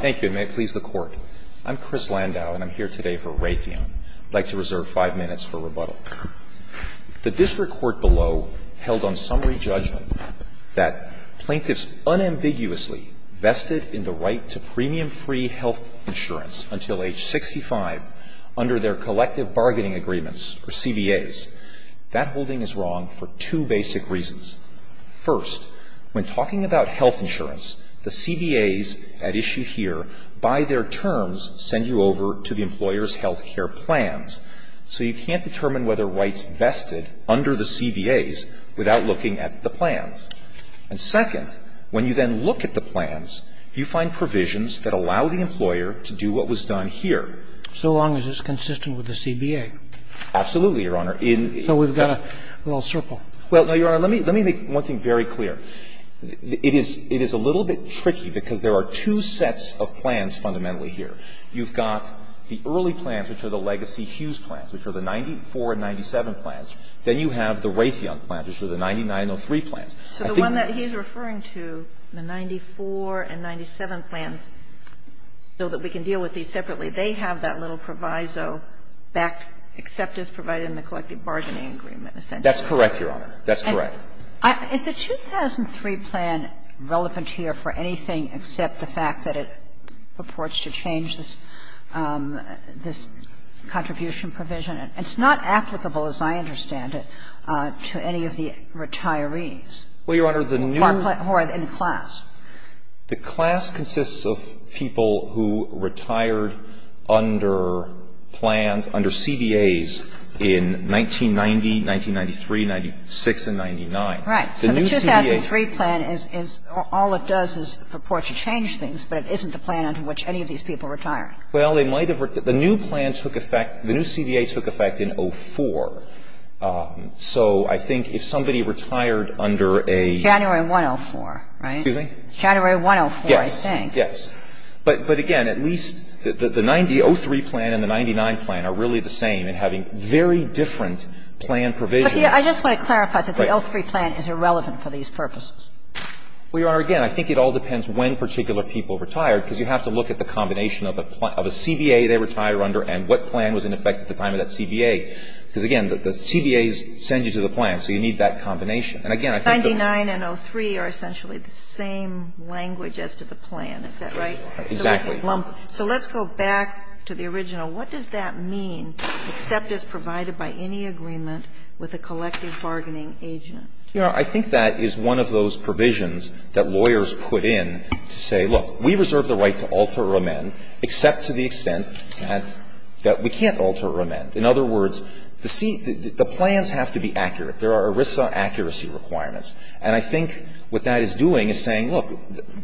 Thank you, and may it please the Court. I'm Chris Landau, and I'm here today for Raytheon. I'd like to reserve five minutes for rebuttal. The district court below held on summary judgment that plaintiffs unambiguously vested in the right to premium-free health insurance until age 65 under their Collective Bargaining Agreements, or CBAs. That holding is wrong for two basic reasons. First, when talking about health insurance, the CBAs at issue here, by their terms, send you over to the employer's health care plans. So you can't determine whether rights vested under the CBAs without looking at the plans. And second, when you then look at the plans, you find provisions that allow the employer to do what was done here. So long as it's consistent with the CBA. Absolutely, Your Honor. So we've got a little circle. Well, Your Honor, let me make one thing very clear. It is a little bit tricky because there are two sets of plans fundamentally here. You've got the early plans, which are the legacy Hughes plans, which are the 94 and 97 plans. Then you have the Raytheon plans, which are the 9903 plans. I think the one that he's referring to, the 94 and 97 plans, so that we can deal with separately, they have that little proviso-backed acceptance provided in the collective bargaining agreement, essentially. That's correct, Your Honor. That's correct. And is the 2003 plan relevant here for anything except the fact that it purports to change this contribution provision? It's not applicable, as I understand it, to any of the retirees. Well, Your Honor, the new or the class. The class consists of people who retired under plans, under CBAs in 1990, 1993, 96 and 99. Right. So the 2003 plan is, all it does is purport to change things, but it isn't the plan under which any of these people retired. Well, they might have retired. The new plan took effect, the new CBA took effect in 04. So I think if somebody retired under a- January 1, 04, right? Excuse me? January 1, 04, I think. Yes. But, again, at least the 90, 03 plan and the 99 plan are really the same in having very different plan provisions. But I just want to clarify that the 03 plan is irrelevant for these purposes. Well, Your Honor, again, I think it all depends when particular people retired, because you have to look at the combination of the CBA they retire under and what plan was in effect at the time of that CBA. Because, again, the CBAs send you to the plan, so you need that combination. And, again, I think the- 99 and 03 are essentially the same language as to the plan, is that right? Exactly. So let's go back to the original. What does that mean, except as provided by any agreement with a collective bargaining agent? Your Honor, I think that is one of those provisions that lawyers put in to say, look, we reserve the right to alter or amend, except to the extent that we can't alter or amend. In other words, the plans have to be accurate. There are ERISA accuracy requirements. And I think what that is doing is saying, look,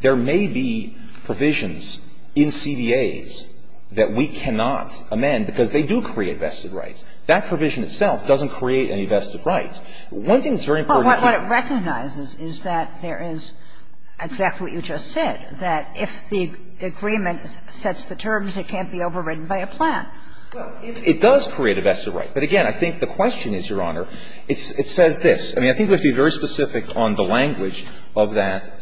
there may be provisions in CBAs that we cannot amend because they do create vested rights. That provision itself doesn't create any vested rights. One thing that's very important to keep in mind- But what it recognizes is that there is exactly what you just said, that if the agreement sets the terms, it can't be overridden by a plan. Well, it does create a vested right. But, again, I think the question is, Your Honor, it says this. I mean, I think we have to be very specific on the language of that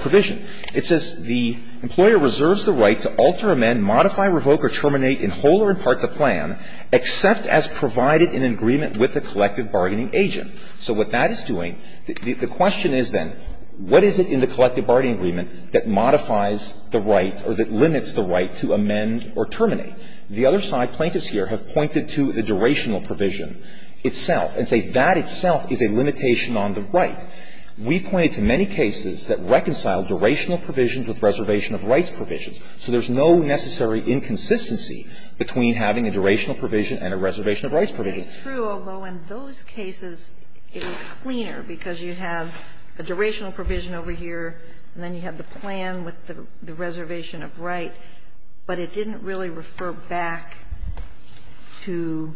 provision. It says the employer reserves the right to alter, amend, modify, revoke, or terminate in whole or in part the plan, except as provided in an agreement with a collective bargaining agent. So what that is doing, the question is, then, what is it in the collective bargaining agreement that modifies the right or that limits the right to amend or terminate? The other side, plaintiffs here, have pointed to the durational provision itself and say that itself is a limitation on the right. We've pointed to many cases that reconcile durational provisions with reservation of rights provisions, so there's no necessary inconsistency between having a durational provision and a reservation of rights provision. It's true, although in those cases it was cleaner because you have a durational provision over here, and then you have the plan with the reservation of right, but it didn't really refer back to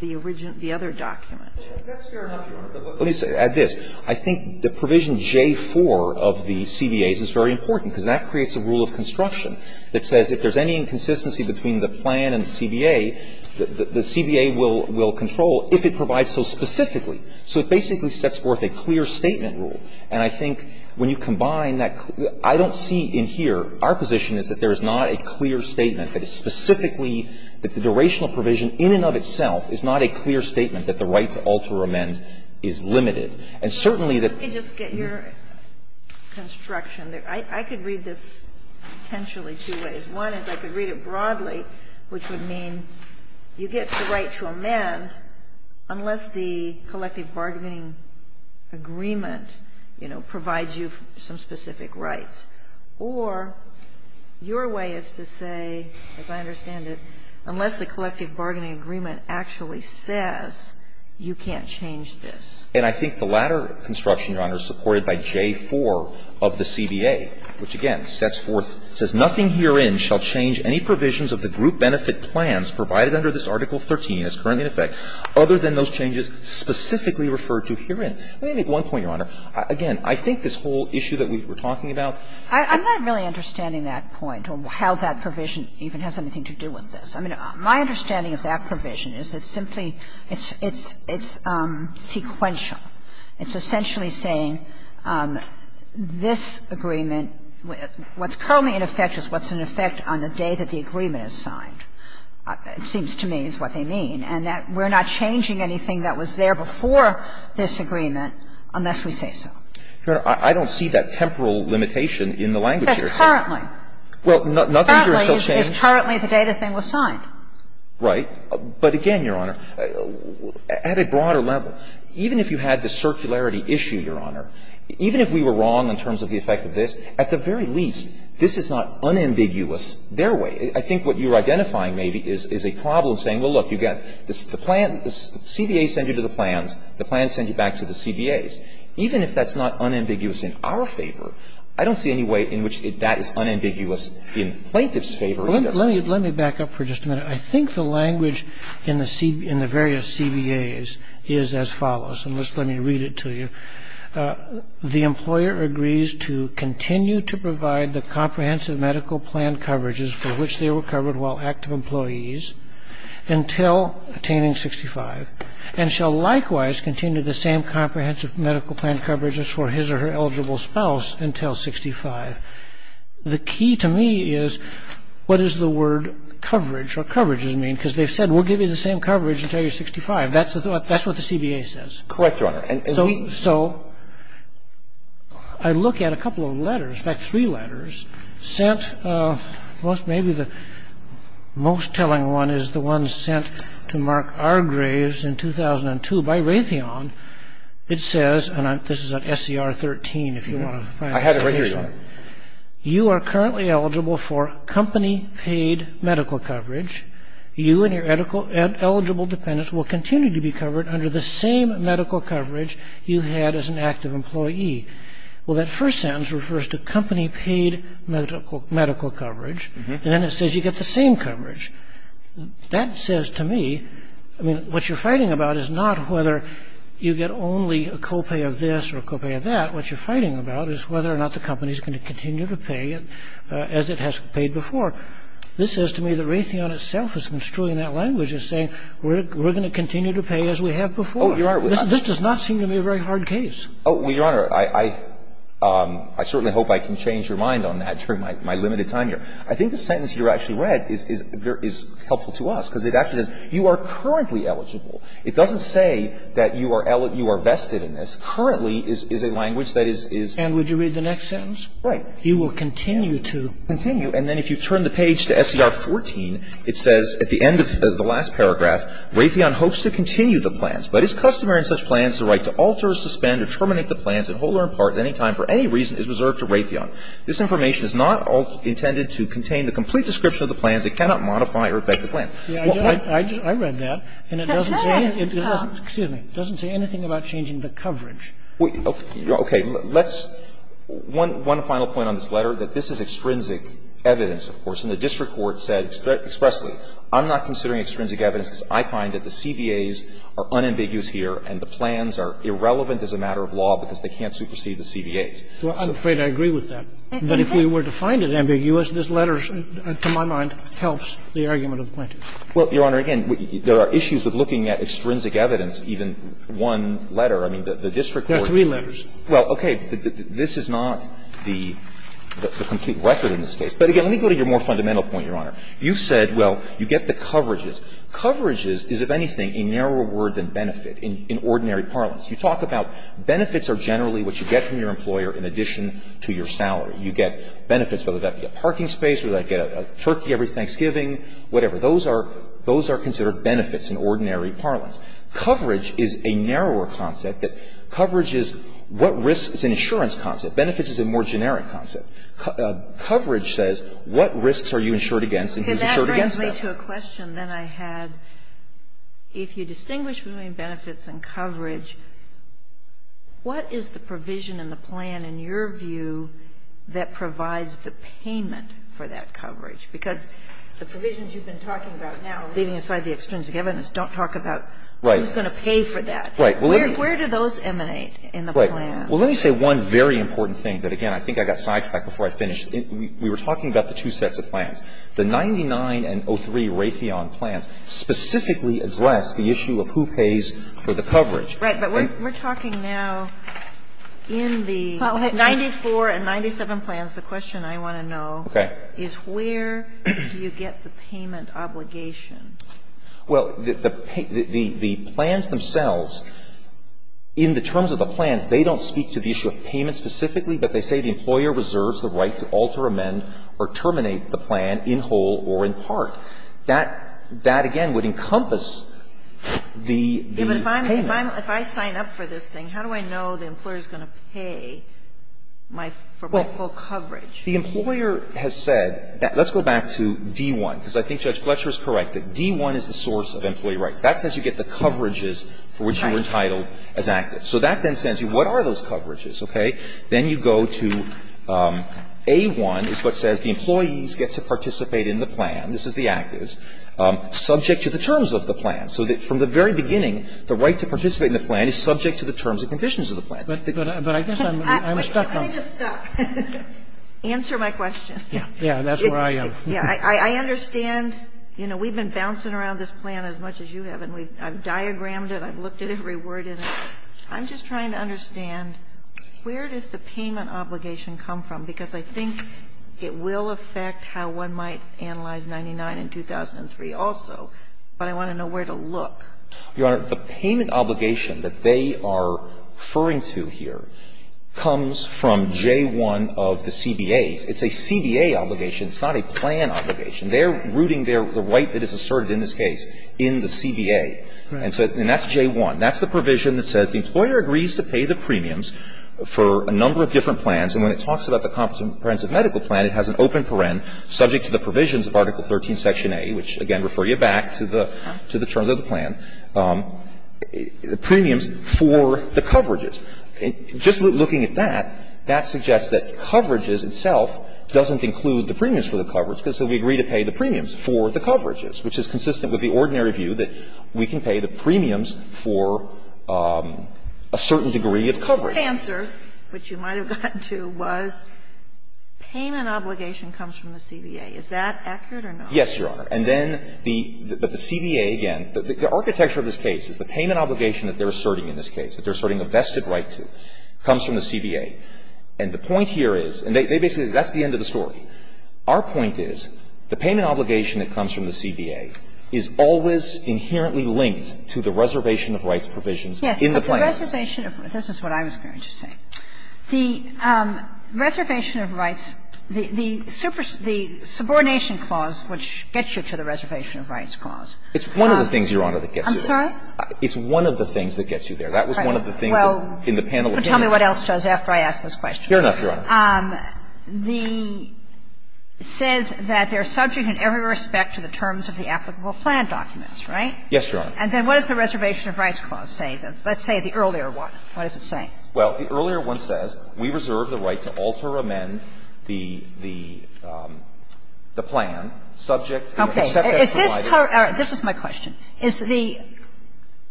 the original or the other document. Alito, that's fair enough, Your Honor, but let me add this. I think the provision J4 of the CBAs is very important because that creates a rule of construction that says if there's any inconsistency between the plan and the CBA, the CBA will control if it provides so specifically. So it basically sets forth a clear statement rule. And I think when you combine that, I don't see in here, our position is that there is not a clear statement that is specifically that the durational provision in and of itself is not a clear statement that the right to alter or amend is limited. Sotomayor, let me just get your construction. I could read this potentially two ways. One is I could read it broadly, which would mean you get the right to amend unless the collective bargaining agreement, you know, provides you some specific rights. Or your way is to say, as I understand it, unless the collective bargaining agreement actually says you can't change this. And I think the latter construction, Your Honor, is supported by J4 of the CBA, which again sets forth, says nothing herein shall change any provisions of the group benefit plans provided under this Article 13 as currently in effect other than those changes specifically referred to herein. Let me make one point, Your Honor. Again, I think this whole issue that we were talking about – I'm not really understanding that point or how that provision even has anything to do with this. I mean, my understanding of that provision is it's simply – it's sequential. It's essentially saying this agreement – what's currently in effect is what's in effect on the day that the agreement is signed, it seems to me is what they mean. And that we're not changing anything that was there before this agreement unless we say so. Your Honor, I don't see that temporal limitation in the language here. That's currently. Well, nothing herein shall change. Currently is the day the thing was signed. Right. But again, Your Honor, at a broader level, even if you had the circularity issue, Your Honor, even if we were wrong in terms of the effect of this, at the very least, this is not unambiguous their way. I think what you're identifying maybe is a problem saying, well, look, you get – the plan – the CBA sends you to the plans, the plans send you back to the CBAs. Even if that's not unambiguous in our favor, I don't see any way in which that is unambiguous in plaintiff's favor either. Let me back up for just a minute. I think the language in the various CBAs is as follows, and let me read it to you. The employer agrees to continue to provide the comprehensive medical plan coverages for which they were covered while active employees until attaining 65 and shall likewise continue the same comprehensive medical plan coverages for his or her eligible spouse until 65. The key to me is what does the word coverage or coverages mean? Because they've said we'll give you the same coverage until you're 65. That's what the CBA says. Correct, Your Honor. And we – So I look at a couple of letters, in fact, three letters, sent – maybe the most telling one is the one sent to Mark Argraves in 2002 by Raytheon. It says – and this is at SCR 13 if you want to find it. I had it right here, Your Honor. You are currently eligible for company-paid medical coverage. You and your eligible dependents will continue to be covered under the same medical coverage you had as an active employee. Well, that first sentence refers to company-paid medical coverage, and then it says you get the same coverage. That says to me – I mean, what you're fighting about is not whether you get only a co-pay of this or a co-pay of that. What you're fighting about is whether or not the company is going to continue to pay it as it has paid before. This says to me that Raytheon itself is construing that language and saying we're going to continue to pay as we have before. Oh, Your Honor, we're not – This does not seem to be a very hard case. Oh, well, Your Honor, I certainly hope I can change your mind on that during my limited time here. I think the sentence you actually read is helpful to us, because it actually says you are currently eligible. It doesn't say that you are vested in this. Currently is a language that is – And would you read the next sentence? Right. You will continue to – Continue. And then if you turn the page to SCR 14, it says at the end of the last paragraph, Raytheon hopes to continue the plans, but its customary and such plans, the right to alter, suspend or terminate the plans in whole or in part at any time for any reason is reserved to Raytheon. This information is not intended to contain the complete description of the plans. It cannot modify or affect the plans. I read that, and it doesn't say anything about changing the coverage. Okay. Let's – one final point on this letter, that this is extrinsic evidence, of course. And the district court said expressly, I'm not considering extrinsic evidence because I find that the CBAs are unambiguous here and the plans are irrelevant as a matter of law because they can't supersede the CBAs. Well, I'm afraid I agree with that. But if we were to find it ambiguous, this letter, to my mind, helps the argument of the plaintiff. Well, Your Honor, again, there are issues with looking at extrinsic evidence, even one letter. I mean, the district court – There are three letters. Well, okay. This is not the complete record in this case. But again, let me go to your more fundamental point, Your Honor. You said, well, you get the coverages. Coverages is, if anything, a narrower word than benefit in ordinary parlance. You talked about benefits are generally what you get from your employer in addition to your salary. You get benefits, whether that be a parking space, whether that be a turkey every Thanksgiving, whatever. Those are considered benefits in ordinary parlance. Coverage is a narrower concept. Coverage is what risks – it's an insurance concept. Benefits is a more generic concept. Coverage says what risks are you insured against and who's insured against them. Sotomayor, let me get to a question that I had. If you distinguish between benefits and coverage, what is the provision in the plan, in your view, that provides the payment for that coverage? Because the provisions you've been talking about now, leaving aside the extrinsic evidence, don't talk about who's going to pay for that. Right. Where do those emanate in the plan? Well, let me say one very important thing that, again, I think I got sidetracked before I finished. We were talking about the two sets of plans. The 99 and 03 Raytheon plans specifically address the issue of who pays for the coverage. Right. But we're talking now in the 94 and 97 plans, the question I want to know is where do you get the payment obligation? Well, the plans themselves, in the terms of the plans, they don't speak to the issue of payment specifically, but they say the employer reserves the right to alter, amend, or terminate the plan in whole or in part. That, again, would encompass the payment. If I sign up for this thing, how do I know the employer is going to pay for my full coverage? Well, the employer has said, let's go back to D-1, because I think Judge Fletcher is correct that D-1 is the source of employee rights. That says you get the coverages for which you are entitled as active. So that then says to you, what are those coverages, okay? Then you go to A-1 is what says the employees get to participate in the plan. This is the actives, subject to the terms of the plan. So that from the very beginning, the right to participate in the plan is subject to the terms and conditions of the plan. But I guess I'm stuck on that. Answer my question. Yes. Yes. That's where I am. Yes. I understand, you know, we've been bouncing around this plan as much as you have, and I've diagrammed it. I've looked at every word in it. I'm just trying to understand where does the payment obligation come from? Because I think it will affect how one might analyze 99 and 2003 also, but I want to know where to look. Your Honor, the payment obligation that they are referring to here comes from J-1 of the CBAs. It's a CBA obligation. It's not a plan obligation. They're rooting their right that is asserted in this case in the CBA. And so that's J-1. That's the provision that says the employer agrees to pay the premiums for a number of different plans. And when it talks about the comprehensive medical plan, it has an open paren subject to the provisions of Article 13, Section A, which, again, refer you back to the terms of the plan, the premiums for the coverages. Just looking at that, that suggests that coverages itself doesn't include the premiums for the coverages, because we agree to pay the premiums for the coverages, which is consistent with the ordinary view that we can pay the premiums for a certain degree of coverage. Sotomayor, which you might have gotten to, was payment obligation comes from the CBA. Is that accurate or not? Yes, Your Honor. And then the CBA, again, the architecture of this case is the payment obligation that they're asserting in this case, that they're asserting a vested right to, comes from the CBA. And the point here is, and they basically say that's the end of the story. Our point is, the payment obligation that comes from the CBA is always inherently linked to the reservation of rights provisions in the plan. Yes, but the reservation of rights, this is what I was going to say. The reservation of rights, the subordination clause, which gets you to the reservation of rights clause. It's one of the things, Your Honor, that gets you there. I'm sorry? It's one of the things that gets you there. That was one of the things in the panel. Well, tell me what else does after I ask this question. Fair enough, Your Honor. The CBA says that they're subject in every respect to the terms of the applicable plan documents, right? Yes, Your Honor. And then what does the reservation of rights clause say? Let's say the earlier one. What does it say? Well, the earlier one says, we reserve the right to alter or amend the plan subject to the acceptance of an idea. This is my question. Is the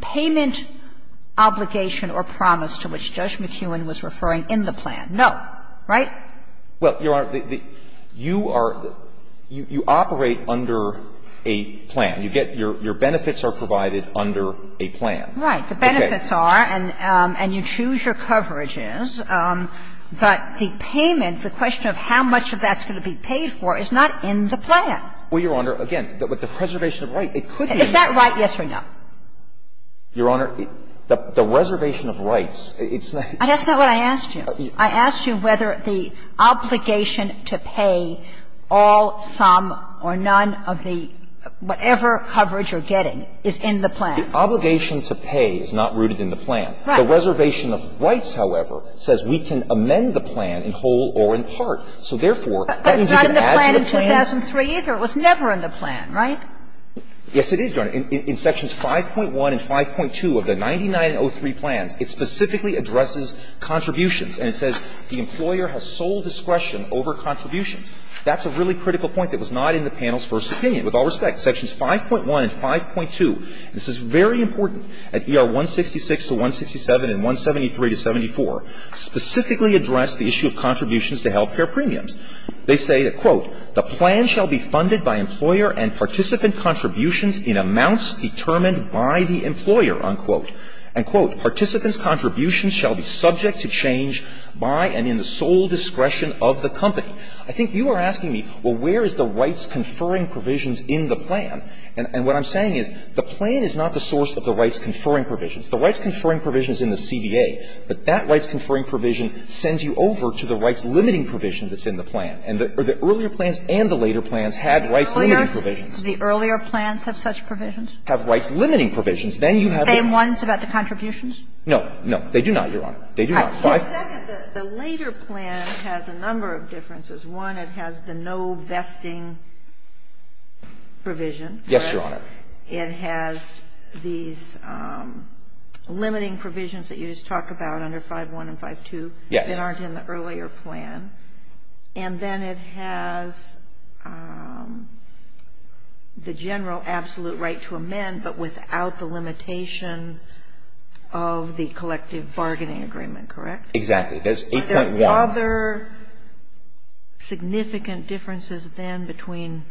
payment obligation or promise to which Judge McEwen was referring in the plan no, right? Well, Your Honor, the you are you operate under a plan. You get your benefits are provided under a plan. Right. The benefits are, and you choose your coverages, but the payment, the question of how much of that's going to be paid for, is not in the plan. Well, Your Honor, again, with the preservation of rights, it could be. Is that right, yes or no? Your Honor, the reservation of rights, it's not. That's not what I asked you. I asked you whether the obligation to pay all, some, or none of the whatever coverage you're getting is in the plan. The obligation to pay is not rooted in the plan. Right. The reservation of rights, however, says we can amend the plan in whole or in part. So therefore, that means you can add to the plan. But it was never in the plan, right? Yes, it is, Your Honor. In sections 5.1 and 5.2 of the 9903 plans, it specifically addresses contributions. And it says the employer has sole discretion over contributions. That's a really critical point that was not in the panel's first opinion. With all respect, sections 5.1 and 5.2, this is very important, at ER 166 to 167 and 173 to 74, specifically address the issue of contributions to health care premiums. They say that, quote, the plan shall be funded by employer and participant contributions in amounts determined by the employer, unquote. And, quote, participants' contributions shall be subject to change by and in the sole discretion of the company. I think you are asking me, well, where is the rights conferring provisions in the plan? And what I'm saying is the plan is not the source of the rights conferring provisions. The rights conferring provision is in the CBA. But that rights conferring provision sends you over to the rights limiting provision that's in the plan. And the earlier plans and the later plans had rights limiting provisions. The earlier plans have such provisions? Have rights limiting provisions. Then you have the ones about the contributions? No. No. They do not, Your Honor. They do not. The later plan has a number of differences. One, it has the no vesting provision. Yes, Your Honor. It has these limiting provisions that you just talk about under 5.1 and 5.2 that aren't in the earlier plan. And then it has the general absolute right to amend, but without the limitation of the collective bargaining agreement, correct? Exactly. There's 8.1. Are there other significant differences, then, between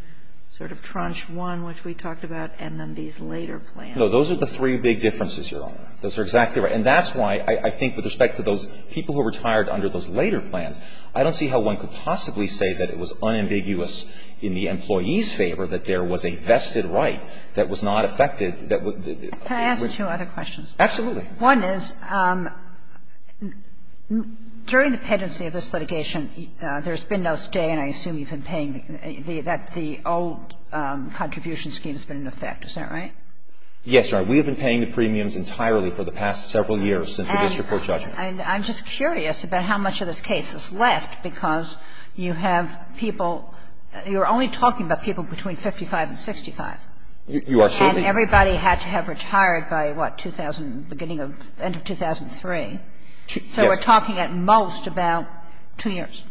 sort of Trunch I, which we talked about, and then these later plans? No. Those are the three big differences, Your Honor. Those are exactly right. And that's why I think with respect to those people who retired under those later plans, I don't see how one could possibly say that it was unambiguous in the employee's favor that there was a vested right that was not affected. Can I ask two other questions? Absolutely. One is, during the pendency of this litigation, there's been no stay, and I assume you've been paying, that the old contribution scheme has been in effect. Is that right? Yes, Your Honor. We have been paying the premiums entirely for the past several years since the district court judgment. I'm just curious about how much of this case is left, because you have people you're only talking about people between 55 and 65. You are certainly. And everybody had to have retired by, what, 2000, beginning of, end of 2003. So we're talking at most about two years.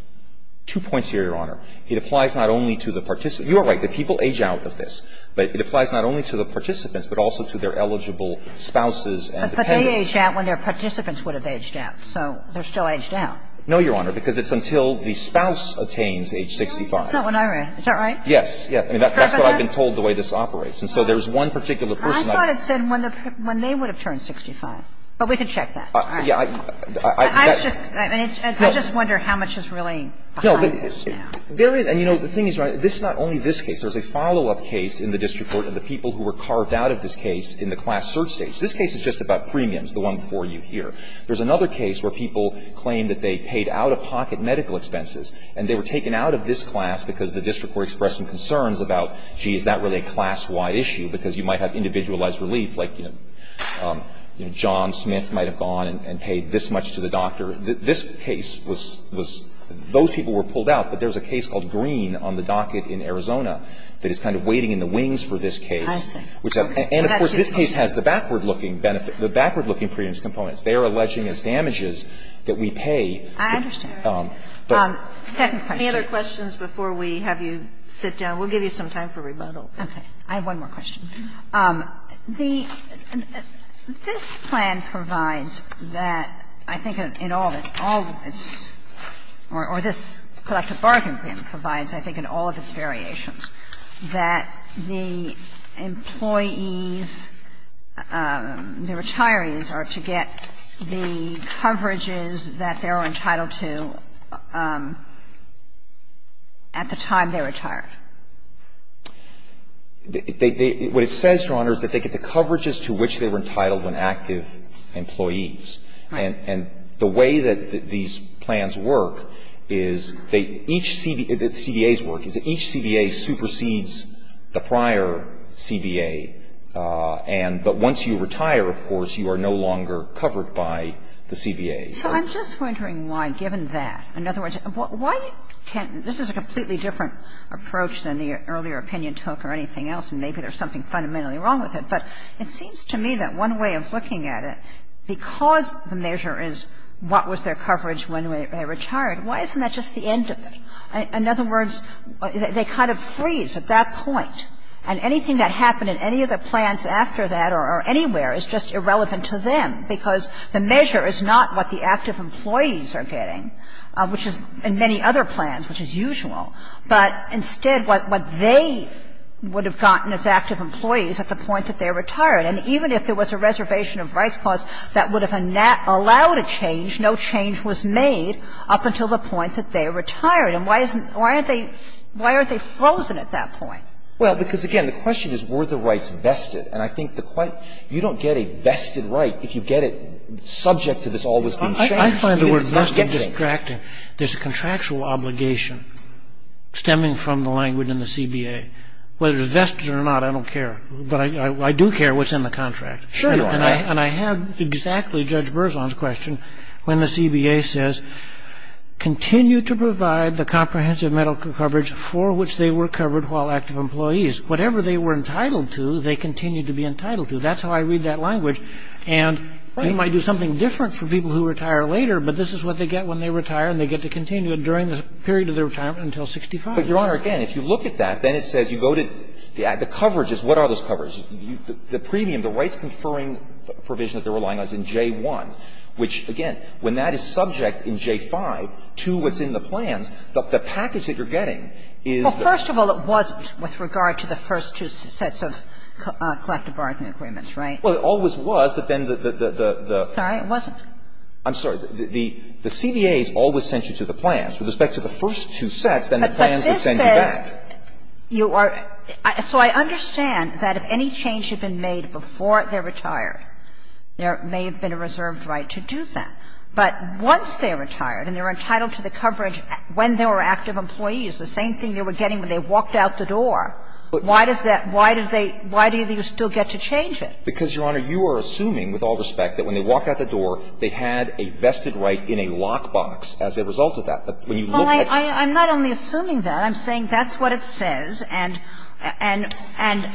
Two points here, Your Honor. It applies not only to the participants. You are right. The people age out of this. But it applies not only to the participants, but also to their eligible spouses and dependents. They age out when their participants would have aged out. So they're still aged out. No, Your Honor, because it's until the spouse attains age 65. That's not what I read. Is that right? Yes. Yes. I mean, that's what I've been told, the way this operates. And so there's one particular person I don't know. I thought it said when they would have turned 65, but we can check that. Yeah. I just wonder how much is really behind this now. There is. And, you know, the thing is, Your Honor, this is not only this case. There's a follow-up case in the district court of the people who were carved out of this case in the class search stage. This case is just about premiums, the one before you here. There's another case where people claim that they paid out-of-pocket medical expenses, and they were taken out of this class because the district court expressed some concerns about, gee, is that really a class-wide issue, because you might have individualized relief, like, you know, John Smith might have gone and paid this much to the doctor. This case was those people were pulled out, but there's a case called Green on the docket in Arizona that is kind of waiting in the wings for this case. I understand. And, of course, this case has the backward-looking benefit, the backward-looking premiums components. They are alleging as damages that we pay. I understand. But second question. Any other questions before we have you sit down? We'll give you some time for rebuttal. Okay. I have one more question. The – this plan provides that I think in all of its – or this collective bargain plan provides, I think, in all of its variations, that the employees – the retirees are to get the coverages that they are entitled to at the time they retire. They – what it says, Your Honor, is that they get the coverages to which they were entitled when active employees. Right. And the way that these plans work is they each – the CBA's work is that each CBA supersedes the prior CBA, and – but once you retire, of course, you are no longer covered by the CBA. So I'm just wondering why, given that, in other words, why can't – this is a completely different approach than the earlier opinion took or anything else, and maybe there's something fundamentally wrong with it, but it seems to me that one way of looking at it, because the measure is what was their coverage when they retired, why isn't that just the end of it? In other words, they kind of freeze at that point, and anything that happened in any of the plans after that or anywhere is just irrelevant to them, because the measure is not what the active employees are getting, which is in many other plans, which is usual, but instead what they would have gotten as active employees at the point that they retired. And even if there was a reservation of rights clause that would have allowed a change, no change was made up until the point that they retired. And why isn't – why aren't they – why aren't they frozen at that point? Well, because, again, the question is, were the rights vested? And I think the – you don't get a vested right if you get it subject to this all-this-been-said. I find the word vested distracting. There's a contractual obligation stemming from the language in the CBA. Whether it's vested or not, I don't care. But I do care what's in the contract. Sure you are. And I have exactly Judge Berzon's question when the CBA says, continue to provide the comprehensive medical coverage for which they were covered while active employees. Whatever they were entitled to, they continue to be entitled to. That's how I read that language. And you might do something different for people who retire later, but this is what they get when they retire, and they get to continue it during the period of their retirement until 65. But, Your Honor, again, if you look at that, then it says you go to the – the coverage is – what are those coverages? The premium, the rights conferring provision that they're relying on is in J1, which, again, when that is subject in J5 to what's in the plans, the package that you're getting is the – Well, first of all, it wasn't with regard to the first two sets of collective bargaining agreements, right? Well, it always was, but then the – the – the – Sorry? It wasn't? I'm sorry. With respect to the first two sets, then the plans were – But this says you are – so I understand that if any change had been made before they're retired, there may have been a reserved right to do that. But once they're retired and they're entitled to the coverage when they were active employees, the same thing they were getting when they walked out the door, why does that – why do they – why do they still get to change it? Because, Your Honor, you are assuming, with all respect, that when they walked out the door, they had a vested right in a lockbox as a result of that. But when you look at it – Well, I'm not only assuming that. I'm saying that's what it says. And – and – and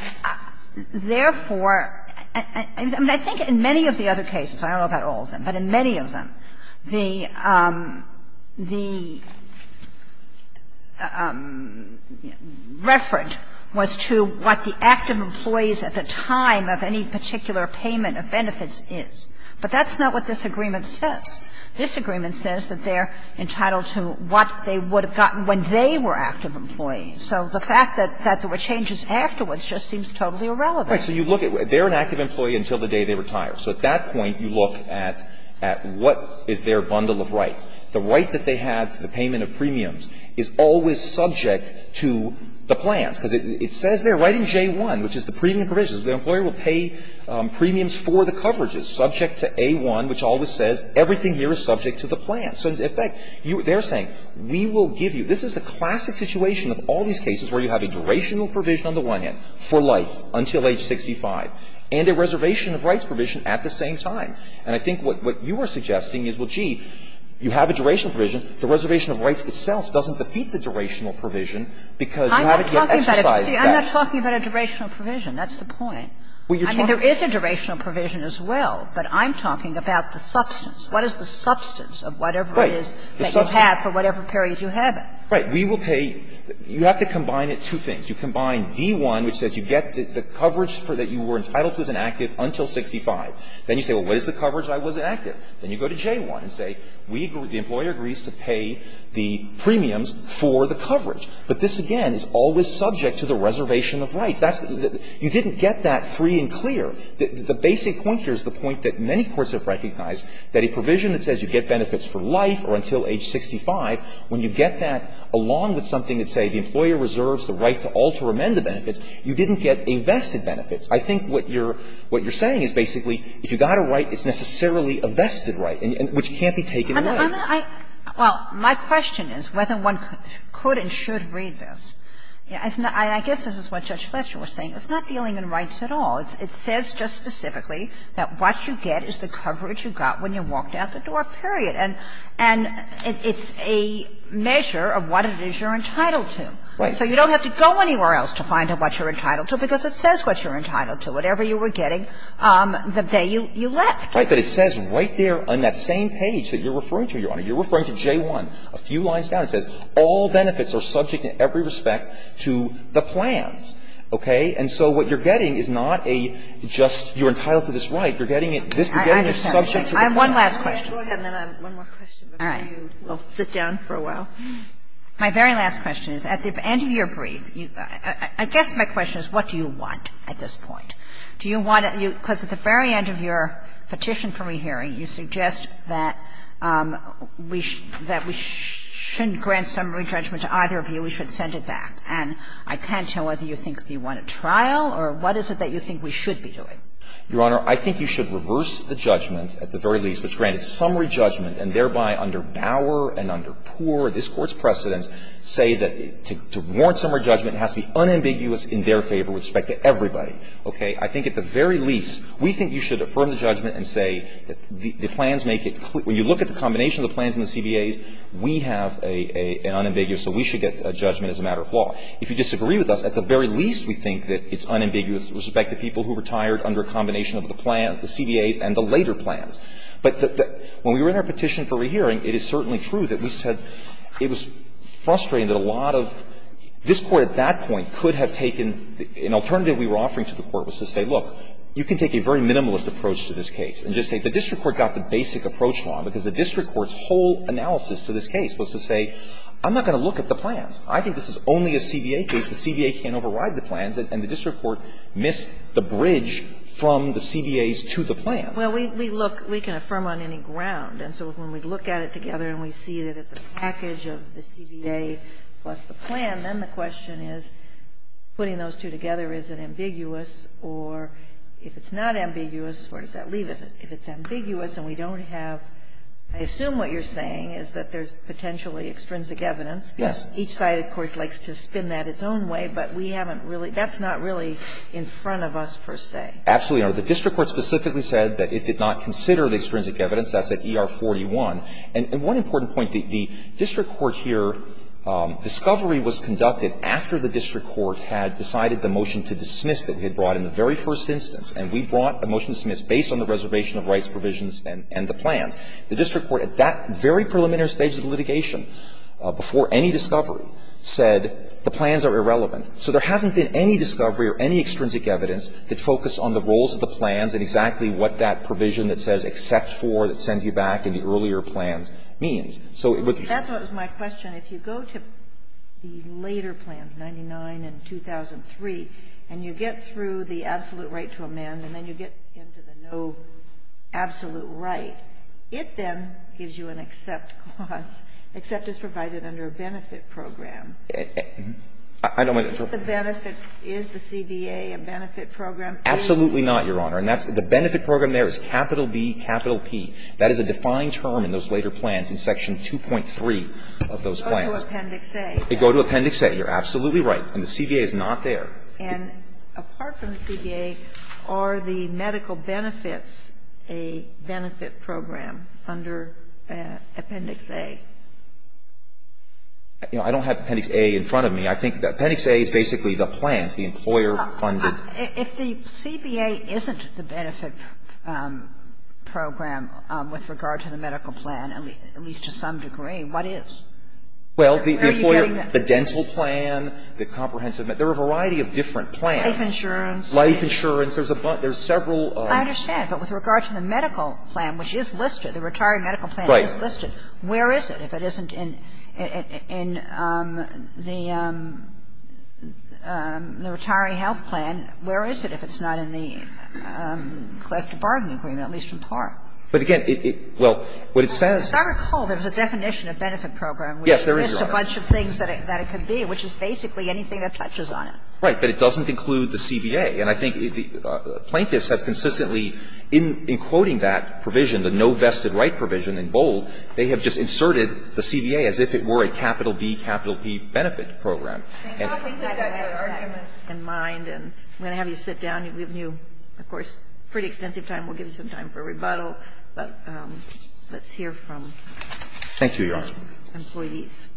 therefore – I mean, I think in many of the other cases – I don't know about all of them, but in many of them, the – the referent was to what the active employees at the time of any particular payment of benefits is. But that's not what this agreement says. This agreement says that they're entitled to what they would have gotten when they were active employees. So the fact that – that there were changes afterwards just seems totally irrelevant. Right. So you look at – they're an active employee until the day they retire. So at that point, you look at – at what is their bundle of rights. The right that they have to the payment of premiums is always subject to the plans, because it – it says there, right in J1, which is the premium provisions, the employer will pay premiums for the coverages subject to A1, which always says everything here is subject to the plan. So in effect, you – they're saying, we will give you – this is a classic situation of all these cases where you have a durational provision on the one hand for life until age 65, and a reservation of rights provision at the same time. And I think what – what you are suggesting is, well, gee, you have a durational provision. The reservation of rights itself doesn't defeat the durational provision because you haven't yet exercised that. I'm not talking about a – see, I'm not talking about a durational provision. That's the point. Well, you're talking about – I mean, there is a durational provision as well, but I'm talking about the substance What is the substance of whatever it is that you have for whatever period you have it? Right. We will pay – you have to combine it two things. You combine D1, which says you get the coverage for – that you were entitled to as an active until 65. Then you say, well, what is the coverage I was an active? Then you go to J1 and say, we agree – the employer agrees to pay the premiums for the coverage. But this, again, is always subject to the reservation of rights. That's the – you didn't get that free and clear. The basic point here is the point that many courts have recognized, that a provision that says you get benefits for life or until age 65, when you get that along with something that say the employer reserves the right to alter or amend the benefits, you didn't get a vested benefit. I think what you're – what you're saying is basically if you got a right, it's necessarily a vested right, which can't be taken away. I'm not – I – well, my question is whether one could and should read this. I guess this is what Judge Fletcher was saying. It's not dealing in rights at all. It says just specifically that what you get is the coverage you got when you walked out the door, period. And it's a measure of what it is you're entitled to. So you don't have to go anywhere else to find out what you're entitled to because it says what you're entitled to, whatever you were getting the day you left. Right. But it says right there on that same page that you're referring to, Your Honor. You're referring to J1. A few lines down, it says all benefits are subject in every respect to the plans. Okay? And so what you're getting is not a just you're entitled to this right. You're getting it – you're getting it subject to the plans. I have one last question. Go ahead, and then I have one more question before you sit down for a while. My very last question is at the end of your brief, I guess my question is what do you want at this point? Do you want to – because at the very end of your petition for rehearing, you suggest that we shouldn't grant summary judgment to either of you, we should send it back. And I can't tell whether you think we want a trial or what is it that you think we should be doing. Your Honor, I think you should reverse the judgment at the very least, which granted summary judgment and thereby under Bauer and under Poore, this Court's precedents, say that to warrant summary judgment, it has to be unambiguous in their favor with respect to everybody. Okay? I think at the very least, we think you should affirm the judgment and say that the plans make it clear – when you look at the combination of the plans and the CBAs, we have an unambiguous, so we should get a judgment as a matter of law. If you disagree with us, at the very least, we think that it's unambiguous with respect to people who retired under a combination of the plan, the CBAs, and the later plans. But when we were in our petition for rehearing, it is certainly true that we said it was frustrating that a lot of – this Court at that point could have taken – an alternative we were offering to the Court was to say, look, you can take a very minimalist approach to this case and just say the district court got the basic approach wrong, because the district court's whole analysis to this case was to say, I'm not going to look at the plans. I think this is only a CBA case. The CBA can't override the plans, and the district court missed the bridge from the CBAs to the plans. Well, we look – we can affirm on any ground. And so when we look at it together and we see that it's a package of the CBA plus the plan, then the question is, putting those two together, is it ambiguous? Or if it's not ambiguous, where does that leave us? If it's ambiguous and we don't have – I assume what you're saying is that there's potentially extrinsic evidence. Yes. Each side, of course, likes to spin that its own way, but we haven't really – that's not really in front of us, per se. Absolutely not. The district court specifically said that it did not consider the extrinsic evidence. That's at ER41. And one important point, the district court here, discovery was conducted after the district court had decided the motion to dismiss that we had brought in the very first instance, and we brought a motion to dismiss based on the reservation of rights provisions and the plans. The district court at that very preliminary stage of the litigation, before any discovery, said the plans are irrelevant. So there hasn't been any discovery or any extrinsic evidence that focused on the roles of the plans and exactly what that provision that says except for that sends you back in the earlier plans means. So with the Federal – Well, that's what was my question. If you go to the later plans, 99 and 2003, and you get through the absolute right to amend, and then you get into the no absolute right, it then gives you an except clause. Except is provided under a benefit program. I don't mean to interrupt. Is the benefit – is the CBA a benefit program? Absolutely not, Your Honor. And that's – the benefit program there is capital B, capital P. That is a defined term in those later plans in section 2.3 of those plans. Go to appendix A. Go to appendix A. You're absolutely right. And the CBA is not there. And apart from the CBA, are the medical benefits a benefit program under appendix A? You know, I don't have appendix A in front of me. I think appendix A is basically the plans, the employer funded. If the CBA isn't the benefit program with regard to the medical plan, at least to some degree, what is? Well, the employer – Where are you getting that? The dental plan, the comprehensive – there are a variety of benefits. But the CBA is a part of a different plan. Life insurance. Life insurance. There's a bunch – there's several of them. I understand. But with regard to the medical plan, which is listed, the retired medical plan is listed. Right. Where is it if it isn't in the retiring health plan? Where is it if it's not in the collective bargaining agreement, at least in part? But again – well, what it says – I recall there's a definition of benefit program. Yes, there is, Your Honor. There's a bunch of things that it could be, which is basically anything that touches on it. Right. But it doesn't include the CBA. And I think the plaintiffs have consistently, in quoting that provision, the no vested right provision in bold, they have just inserted the CBA as if it were a capital B, capital P benefit program. And I think that has to be kept in mind. And I'm going to have you sit down. We've given you, of course, pretty extensive time. We'll give you some time for rebuttal. But let's hear from the employees.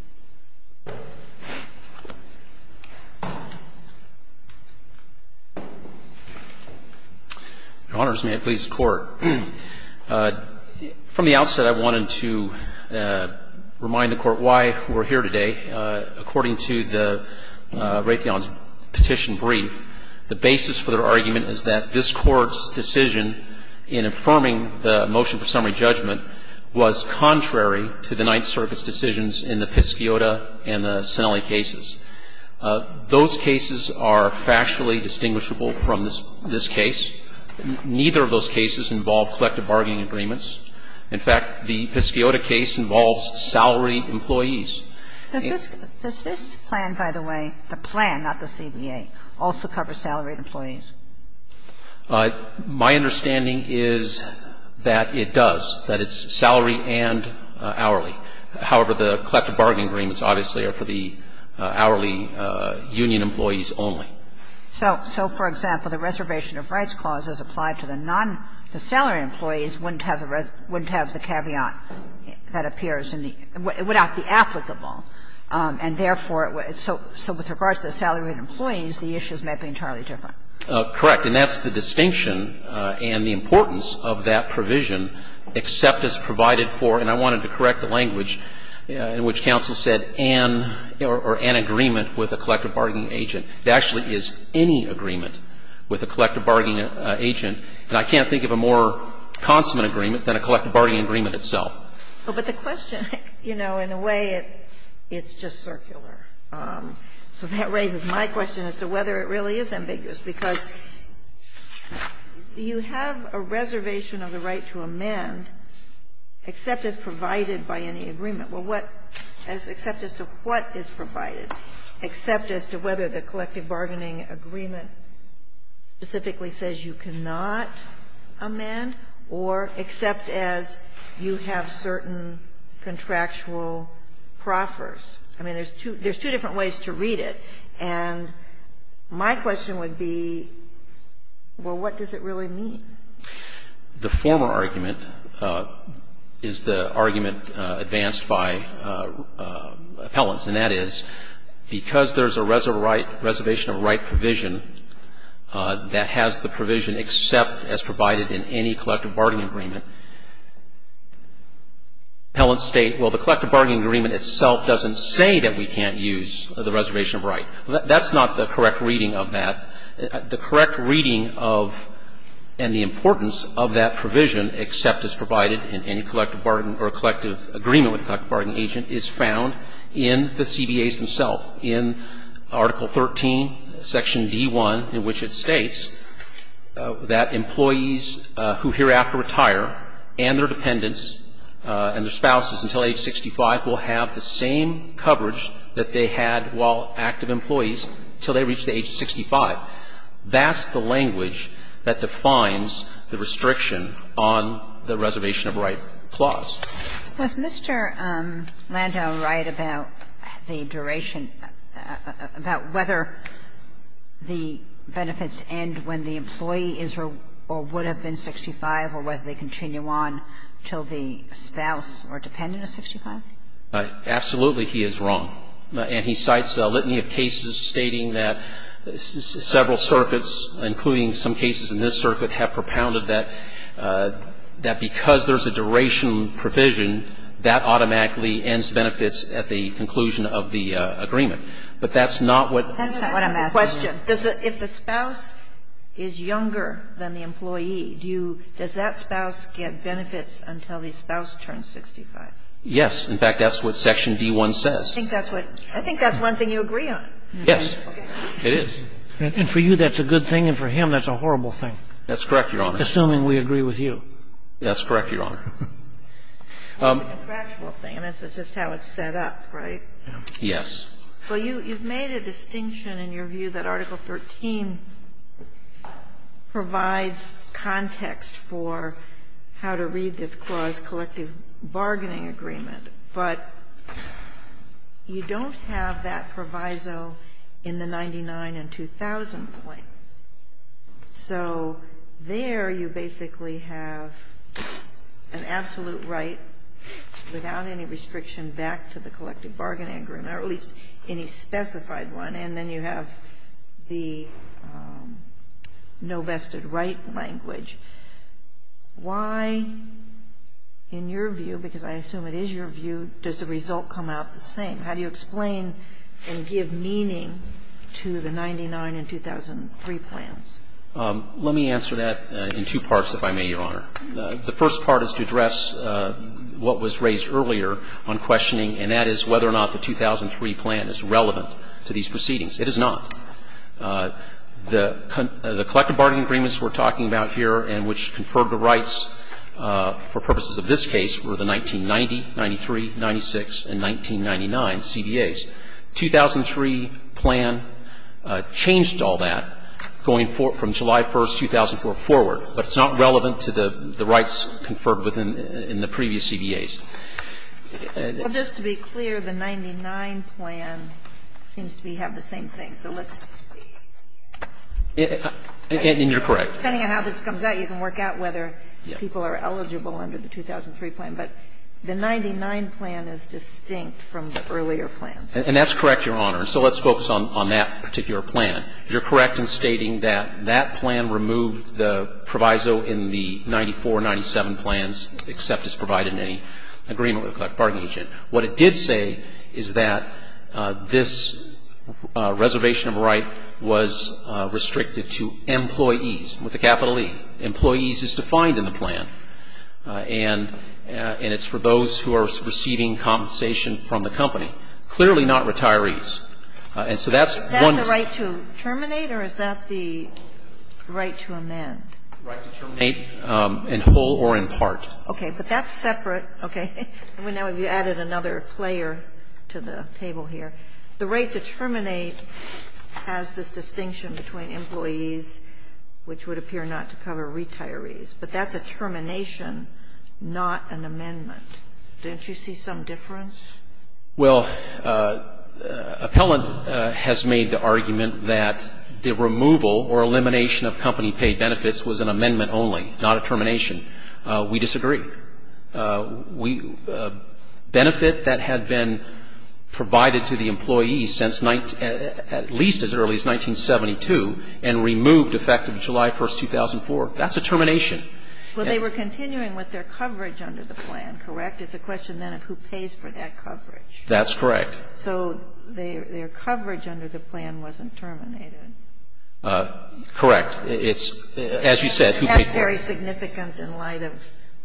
Your Honors, may it please the Court. From the outset, I wanted to remind the Court why we're here today. According to the Raytheon's petition brief, the basis for their argument is that this Court's decision in affirming the motion for summary judgment was contrary to the Ninth Circuit's decisions in the Pisciota and the Sinelli cases. Those cases are factually distinguishable from this case. Neither of those cases involve collective bargaining agreements. In fact, the Pisciota case involves salary employees. Does this plan, by the way, the plan, not the CBA, also cover salaried employees? My understanding is that it does, that it's salary and hourly. However, the collective bargaining agreements obviously are for the hourly union employees only. So, for example, the reservation of rights clause is applied to the non-salary employees, wouldn't have the caveat that appears in the – would not be applicable. And therefore, so with regards to the salaried employees, the issues may be entirely different. Correct. And that's the distinction and the importance of that provision, except as provided for, and I wanted to correct the language in which counsel said, an – or an agreement with a collective bargaining agent. There actually is any agreement with a collective bargaining agent, and I can't think of a more consummate agreement than a collective bargaining agreement itself. But the question, you know, in a way it's just circular. So that raises my question as to whether it really is ambiguous, because you have a reservation of the right to amend, except as provided by any agreement. Well, what – except as to what is provided, except as to whether the collective bargaining agreement specifically says you cannot amend, or except as you have certain contractual proffers. I mean, there's two – there's two different ways to read it. And my question would be, well, what does it really mean? The former argument is the argument advanced by appellants, and that is, because there's a reservation of right provision that has the provision except as provided in any collective bargaining agreement, appellants state, well, the collective bargaining agreement does not say that we can't use the reservation of right. That's not the correct reading of that. The correct reading of – and the importance of that provision, except as provided in any collective bargaining or collective agreement with a collective bargaining agent, is found in the CBAs themselves, in Article 13, Section D1, in which it states that employees who hereafter retire and their dependents and their spouses until age 65 will have the same coverage that they had while active employees until they reach the age of 65. That's the language that defines the restriction on the reservation of right clause. Was Mr. Landau right about the duration, about whether the benefits end when the employee is or would have been 65, or whether they continue on until the spouse or dependant turns 65? Absolutely, he is wrong. And he cites a litany of cases stating that several circuits, including some cases in this circuit, have propounded that, that because there's a duration provision, that automatically ends benefits at the conclusion of the agreement. But that's not what the question is. If the spouse is younger than the employee, do you – does that spouse get benefits until the spouse turns 65? Yes. In fact, that's what Section D1 says. I think that's what – I think that's one thing you agree on. Yes, it is. And for you that's a good thing, and for him that's a horrible thing. That's correct, Your Honor. Assuming we agree with you. That's correct, Your Honor. That's a contractual thing. I mean, that's just how it's set up, right? Yes. Well, you've made a distinction in your view that Article 13 provides context for how to read this clause, collective bargaining agreement. But you don't have that proviso in the 99 and 2000 claims. So there you basically have an absolute right without any restriction back to the collective bargaining agreement, or at least any specified one. And then you have the no vested right language. Why, in your view, because I assume it is your view, does the result come out the same? How do you explain and give meaning to the 99 and 2003 plans? Let me answer that in two parts, if I may, Your Honor. The first part is to address what was raised earlier on questioning, and that is whether or not the 2003 plan is relevant to these proceedings. It is not. The collective bargaining agreements we're talking about here and which conferred the rights for purposes of this case were the 1990, 93, 96, and 1999 CBAs. The 2003 plan changed all that going from July 1st, 2004 forward. But it's not relevant to the rights conferred within the previous CBAs. Well, just to be clear, the 99 plan seems to have the same thing. So let's see. And you're correct. Depending on how this comes out, you can work out whether people are eligible under the 2003 plan. But the 99 plan is distinct from the earlier plans. And that's correct, Your Honor. So let's focus on that particular plan. You're correct in stating that that plan removed the proviso in the 94, 97 plans, except it's provided in any agreement with the collective bargaining agent. What it did say is that this reservation of right was restricted to employees with a capital E. Employees is defined in the plan. And it's for those who are receiving compensation from the company, clearly not retirees. And so that's one of the things. Is that the right to terminate or is that the right to amend? Right to terminate in whole or in part. Okay. But that's separate. Okay. I mean, now you've added another player to the table here. The right to terminate has this distinction between employees, which would appear not to cover retirees, but that's a termination, not an amendment. Don't you see some difference? Well, Appellant has made the argument that the removal or elimination of company paid benefits was an amendment only, not a termination. We disagree. Benefit that had been provided to the employees since at least as early as 1972 and removed effective July 1, 2004, that's a termination. Well, they were continuing with their coverage under the plan, correct? It's a question then of who pays for that coverage. That's correct. So their coverage under the plan wasn't terminated. Correct. It's, as you said, who pays for it. That's very significant in light of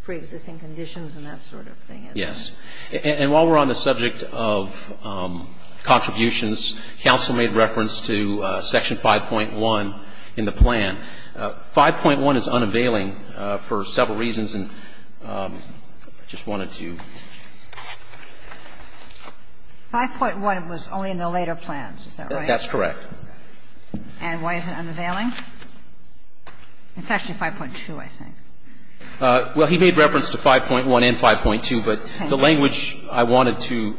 preexisting conditions and that sort of thing. Yes. And while we're on the subject of contributions, counsel made reference to Section 5.1 in the plan. 5.1 is unavailing for several reasons, and I just wanted to. 5.1 was only in the later plans, is that right? That's correct. And why is it unavailing? In Section 5.2, I think. Well, he made reference to 5.1 and 5.2, but the language I wanted to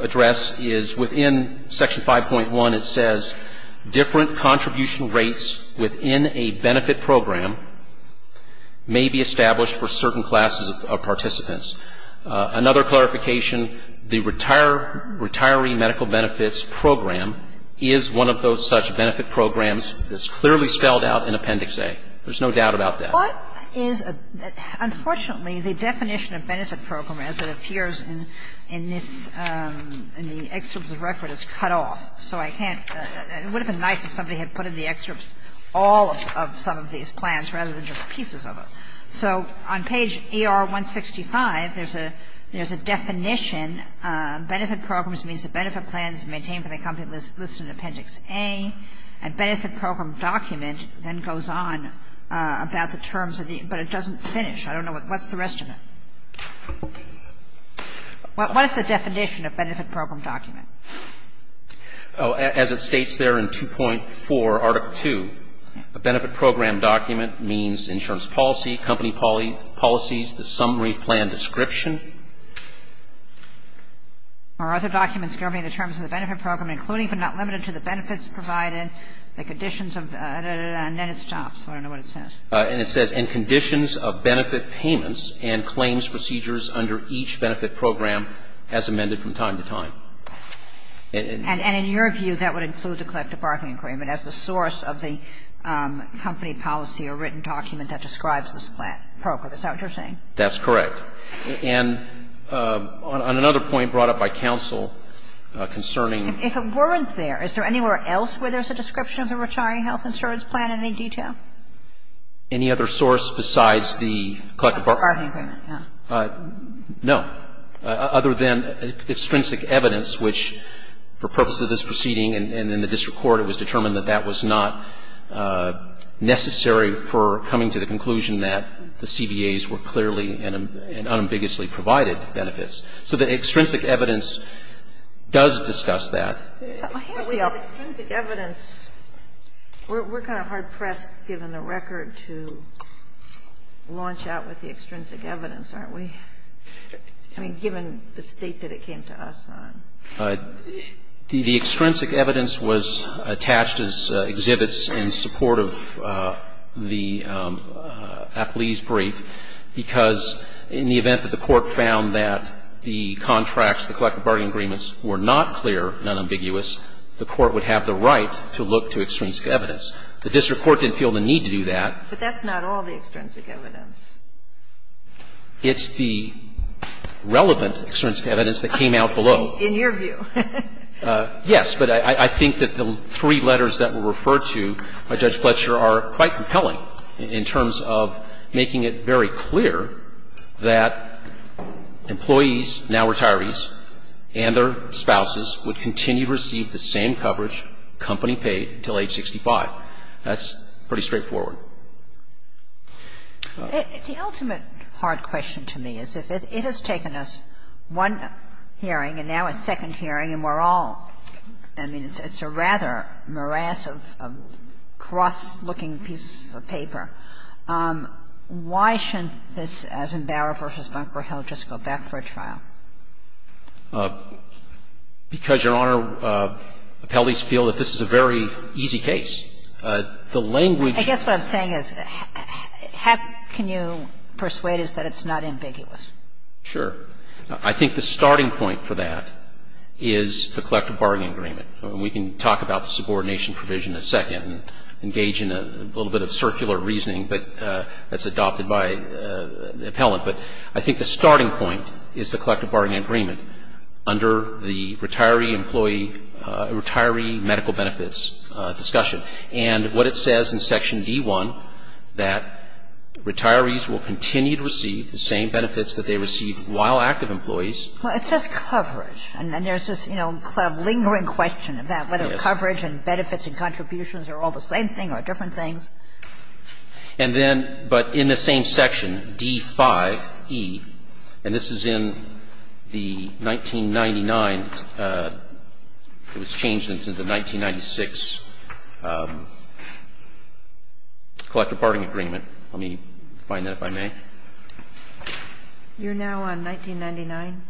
address is within Section 5.1 it says, Different contribution rates within a benefit program may be established for certain classes of participants. Another clarification, the retiree medical benefits program is one of those such benefit programs that's clearly spelled out in Appendix A. There's no doubt about that. What is a – unfortunately, the definition of benefit program, as it appears in this, in the excerpts of record, is cut off, so I can't – it would have been nice if somebody had put in the excerpts all of some of these plans rather than just pieces of it. So on page AR165, there's a definition, And benefit program document then goes on about the terms of the – but it doesn't finish. I don't know what – what's the rest of it? What is the definition of benefit program document? As it states there in 2.4, Article II, a benefit program document means insurance policy, company policies, the summary plan description. Or other documents governing the terms of the benefit program, including but not limited to the benefits provided, the conditions of – and then it stops. I don't know what it says. And it says, And conditions of benefit payments and claims procedures under each benefit program as amended from time to time. And in your view, that would include the collective bargaining agreement as the source of the company policy or written document that describes this program. Is that what you're saying? That's correct. And on another point brought up by counsel concerning – If it weren't there, is there anywhere else where there's a description of the retiree health insurance plan in any detail? Any other source besides the collective bargaining agreement? No. Other than extrinsic evidence, which for purposes of this proceeding and in the district court it was determined that that was not necessary for coming to the conclusion that the CBAs were clearly and unambiguously provided benefits. So the extrinsic evidence does discuss that. But we have extrinsic evidence. We're kind of hard-pressed, given the record, to launch out with the extrinsic evidence, aren't we? I mean, given the State that it came to us on. The extrinsic evidence was attached as exhibits in support of the applese brief, because in the event that the court found that the contracts, the collective bargaining agreements, were not clear, unambiguous, the court would have the right to look to extrinsic evidence. The district court didn't feel the need to do that. But that's not all the extrinsic evidence. It's the relevant extrinsic evidence that came out below. In your view. Yes. But I think that the three letters that were referred to by Judge Fletcher are quite compelling in terms of making it very clear that employees, now retirees, and their spouses would continue to receive the same coverage, company-paid, until age 65. That's pretty straightforward. The ultimate hard question to me is if it has taken us one hearing and now we're having now a second hearing and we're all, I mean, it's a rather morass of cross-looking pieces of paper, why shouldn't this, as in Bower v. Bunker Hill, just go back for a trial? Because, Your Honor, appellees feel that this is a very easy case. The language of the case is that it's not ambiguous. And a lot of the time, it's not. And what I think is an interesting point about this, as I think it's a good point, is that it's not the only case that applies. Sure. I think the starting point for that is the collective bargaining agreement. And we can talk about subordination provision in a second and engage in a little bit of circular reasoning that's adopted by the appellant. But I think the starting point is the collective bargaining agreement under the retiree employee, retiree medical benefits discussion. And what it says in Section D-1, that retirees will continue to receive the same benefits that they receive while active employees. Well, it says coverage. And there's this, you know, lingering question about whether coverage and benefits and contributions are all the same thing or different things. And then, but in the same section, D-5e, and this is in the 1999, it was changed into the 1996 collective bargaining agreement. Let me find that, if I may. You're now on 1999?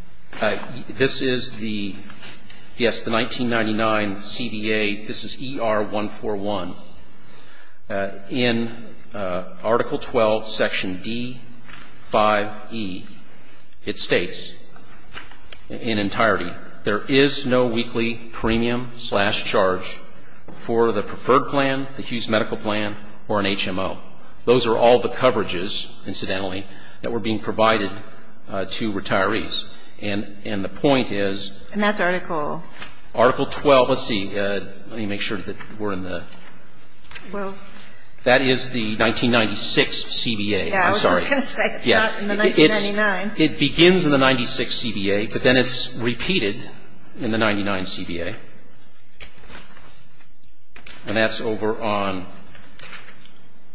This is the, yes, the 1999 CDA. This is ER-141. In Article 12, Section D-5e, it states in entirety, there is no weekly premium slash charge for the preferred plan, the Hughes Medical Plan, or an HMO. Those are all the coverages, incidentally, that were being provided to retirees. And the point is. And that's Article. Article 12. Let's see. Let me make sure that we're in the. That is the 1996 CBA. I'm sorry. I was just going to say, it's not in the 1999. It begins in the 1996 CBA, but then it's repeated in the 1999 CBA. And that's over on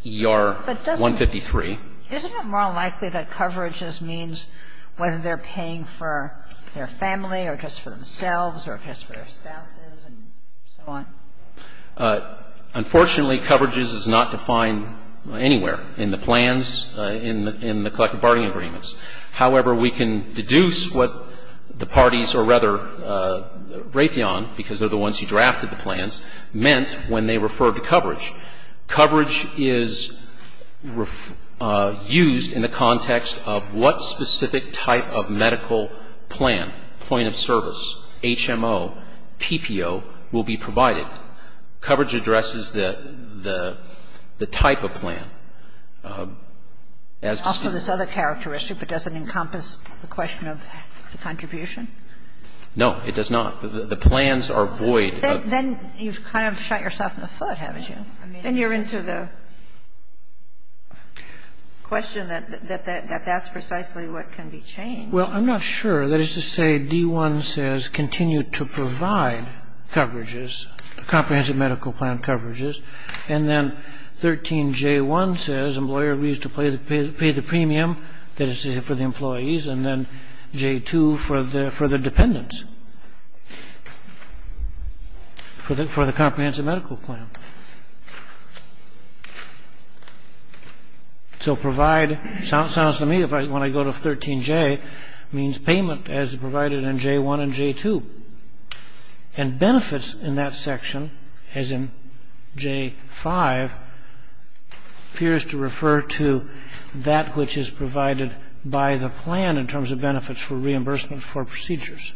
ER-153. Isn't it more likely that coverages means whether they're paying for their family or just for themselves or just for their spouses and so on? Unfortunately, coverages is not defined anywhere in the plans in the collective bargaining agreements. However, we can deduce what the parties, or rather Raytheon, because they're the ones who drafted the plans, meant when they referred to coverage. Coverage is used in the context of what specific type of medical plan, point of sale service, HMO, PPO, will be provided. Coverage addresses the type of plan. As to. Also this other characteristic, but does it encompass the question of the contribution? No, it does not. The plans are void of. Then you've kind of shot yourself in the foot, haven't you? Then you're into the question that that's precisely what can be changed. Well, I'm not sure. That is to say, D-1 says continue to provide coverages, comprehensive medical plan coverages. And then 13-J-1 says employer agrees to pay the premium that is for the employees. And then J-2 for the dependents, for the comprehensive medical plan. So provide sounds to me, when I go to 13-J, means payment as provided in J-1 and J-2. And benefits in that section, as in J-5, appears to refer to that which is provided by the plan in terms of benefits for reimbursement for procedures.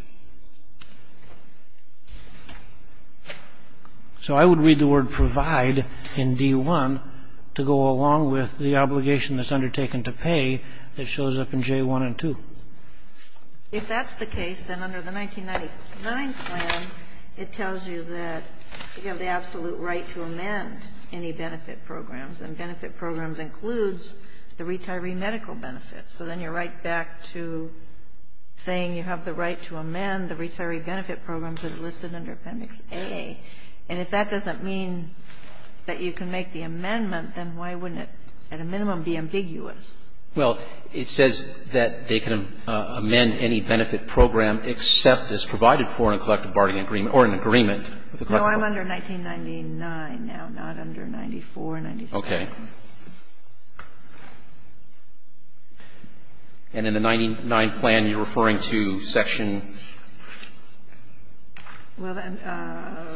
So I would read the word provide in D-1 to go along with the obligation that's undertaken to pay that shows up in J-1 and J-2. If that's the case, then under the 1999 plan, it tells you that you have the absolute right to amend any benefit programs. And benefit programs includes the retiree medical benefits. So then you're right back to saying you have the right to amend any benefit programs. And if that doesn't mean that you can make the amendment, then why wouldn't it at a minimum be ambiguous? Well, it says that they can amend any benefit program except as provided for in a collective bargaining agreement or an agreement. No, I'm under 1999 now, not under 94, 97. Okay. And in the 99 plan, you're referring to section? Well,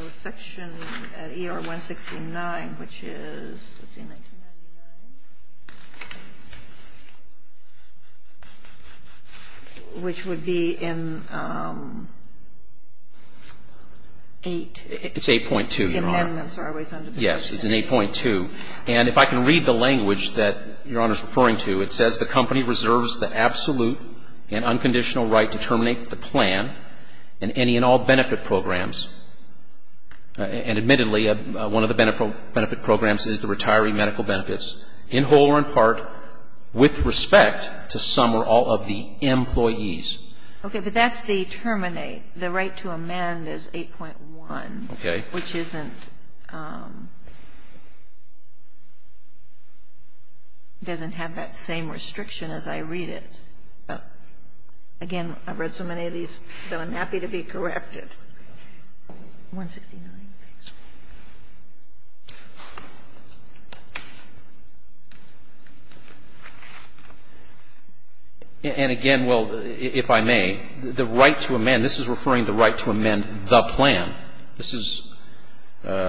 section ER-169, which is, let's see, 1999, which would be in 8. It's 8.2, Your Honor. Amendments are always under the 99. Yes, it's in 8.2. And if I can read the language that Your Honor is referring to, it says the company reserves the absolute and unconditional right to terminate the plan and any and all benefit programs. And admittedly, one of the benefit programs is the retiree medical benefits in whole or in part with respect to some or all of the employees. Okay. But that's the terminate. The right to amend is 8.1. Okay. And this is a different benefit, which isn't doesn't have that same restriction as I read it. Again, I've read so many of these, so I'm happy to be corrected. 169. And again, well, if I may, the right to amend, this is referring to the right to amend the plan. And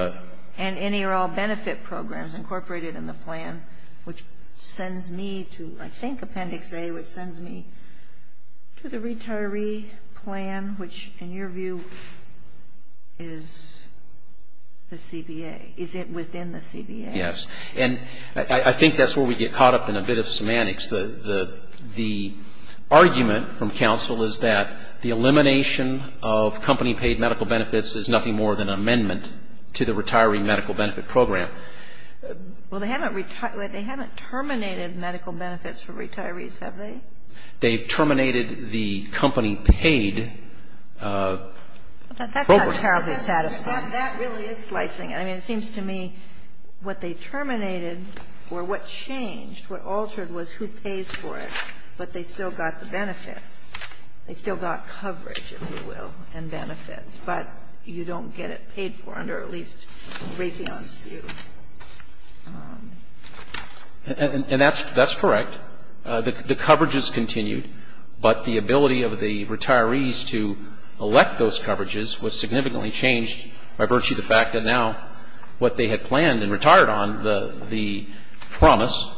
any or all benefit programs incorporated in the plan, which sends me to, I think, Appendix A, which sends me to the retiree plan, which in your view is the CBA. Is it within the CBA? Yes. And I think that's where we get caught up in a bit of semantics. The argument from counsel is that the elimination of company-paid medical benefits is nothing more than an amendment to the retiree medical benefit program. Well, they haven't terminated medical benefits for retirees, have they? They've terminated the company-paid program. That's not terribly satisfying. That really is slicing it. I mean, it seems to me what they terminated or what changed, what altered was who pays for it, but they still got the benefits. They still got coverage, if you will, and benefits. But you don't get it paid for under at least Raytheon's view. And that's correct. The coverage is continued, but the ability of the retirees to elect those coverages was significantly changed by virtue of the fact that now what they had planned and retired on, the promise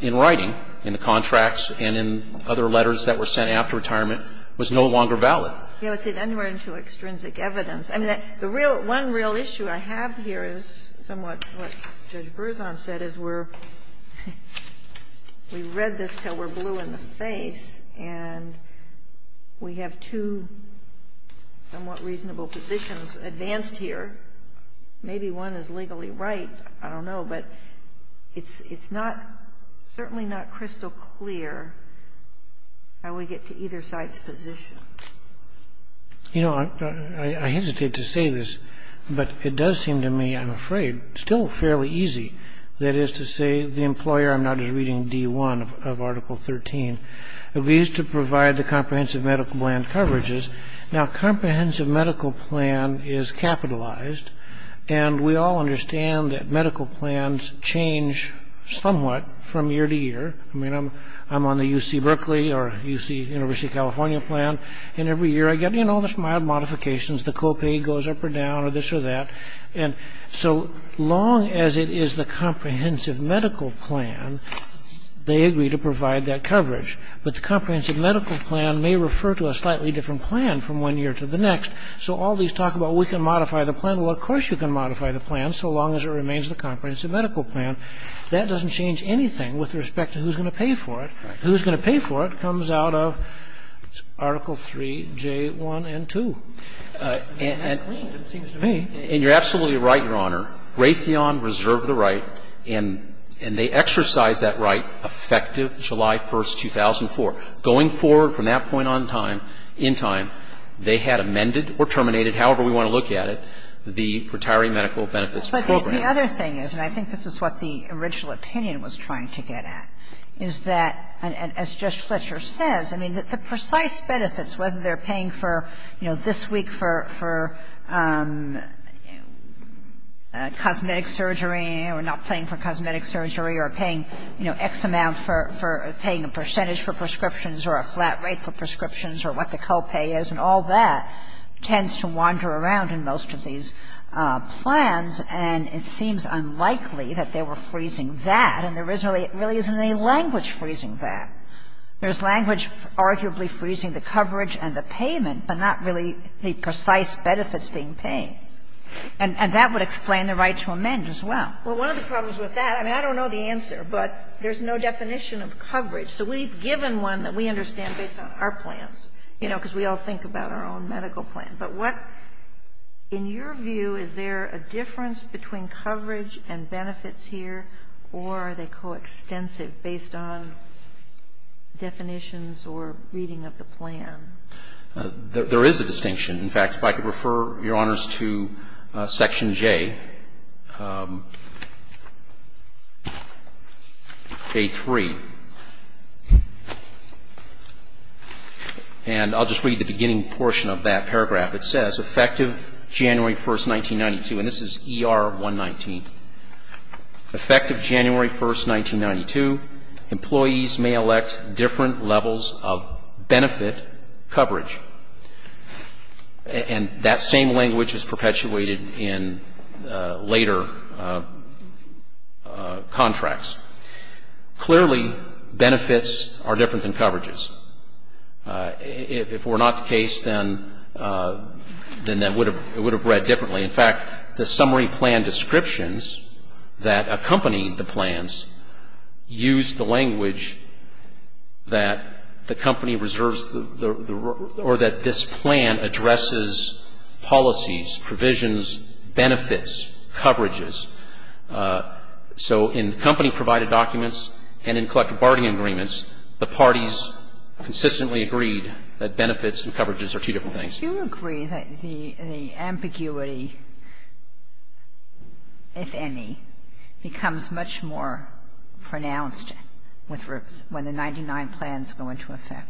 in writing, in the contracts and in other letters that were sent after retirement, was no longer valid. Yes. And then we're into extrinsic evidence. I mean, the real one real issue I have here is somewhat what Judge Berzon said, is we're, we read this until we're blue in the face, and we have two somewhat reasonable positions advanced here. Maybe one is legally right. I don't know. But it's not, certainly not crystal clear how we get to either side's position. You know, I hesitate to say this, but it does seem to me, I'm afraid, still fairly easy, that is to say, the employer, I'm not just reading D1 of Article 13, agrees to provide the comprehensive medical plan coverages. Now, comprehensive medical plan is capitalized. And we all understand that medical plans change somewhat from year to year. I mean, I'm on the UC Berkeley or UC University of California plan. And every year I get in all these mild modifications. The co-pay goes up or down, or this or that. And so long as it is the comprehensive medical plan, they agree to provide that coverage. But the comprehensive medical plan may refer to a slightly different plan from one year to the next. So all these talk about we can modify the plan. Well, of course you can modify the plan so long as it remains the comprehensive medical plan. That doesn't change anything with respect to who's going to pay for it. Who's going to pay for it comes out of Article 3, J1 and 2. And you're absolutely right, Your Honor. Raytheon reserved the right, and they exercised that right effective July 1, 2004. Going forward from that point on time, in time, they had amended or terminated, however we want to look at it, the retiree medical benefits program. But the other thing is, and I think this is what the original opinion was trying to get at, is that, as Judge Fletcher says, I mean, the precise benefits, whether they're paying for, you know, this week for cosmetic surgery or not paying for cosmetic surgery or paying, you know, X amount for paying a percentage for prescriptions or a flat rate for prescriptions or what the copay is and all that tends to wander around in most of these plans. And it seems unlikely that they were freezing that, and there really isn't any language freezing that. There's language arguably freezing the coverage and the payment, but not really the precise benefits being paid. And that would explain the right to amend as well. Well, one of the problems with that, I mean, I don't know the answer, but there's no definition of coverage. So we've given one that we understand based on our plans, you know, because we all think about our own medical plan. But what, in your view, is there a difference between coverage and benefits here, or are they coextensive based on definitions or reading of the plan? There is a distinction. In fact, if I could refer, Your Honors, to Section J, A3. And I'll just read the beginning portion of that paragraph. It says, Effective January 1, 1992, and this is ER 119th. Effective January 1, 1992, employees may elect different levels of benefit coverage. And that same language is perpetuated in later contracts. Clearly, benefits are different than coverages. If it were not the case, then it would have read differently. In fact, the summary plan descriptions that accompany the plans use the language that the company reserves or that this plan addresses policies, provisions, benefits, coverages. So in the company-provided documents and in collective bargaining agreements, the parties consistently agreed that benefits and coverages are two different things. Do you agree that the ambiguity, if any, becomes much more pronounced when the 99 plans go into effect?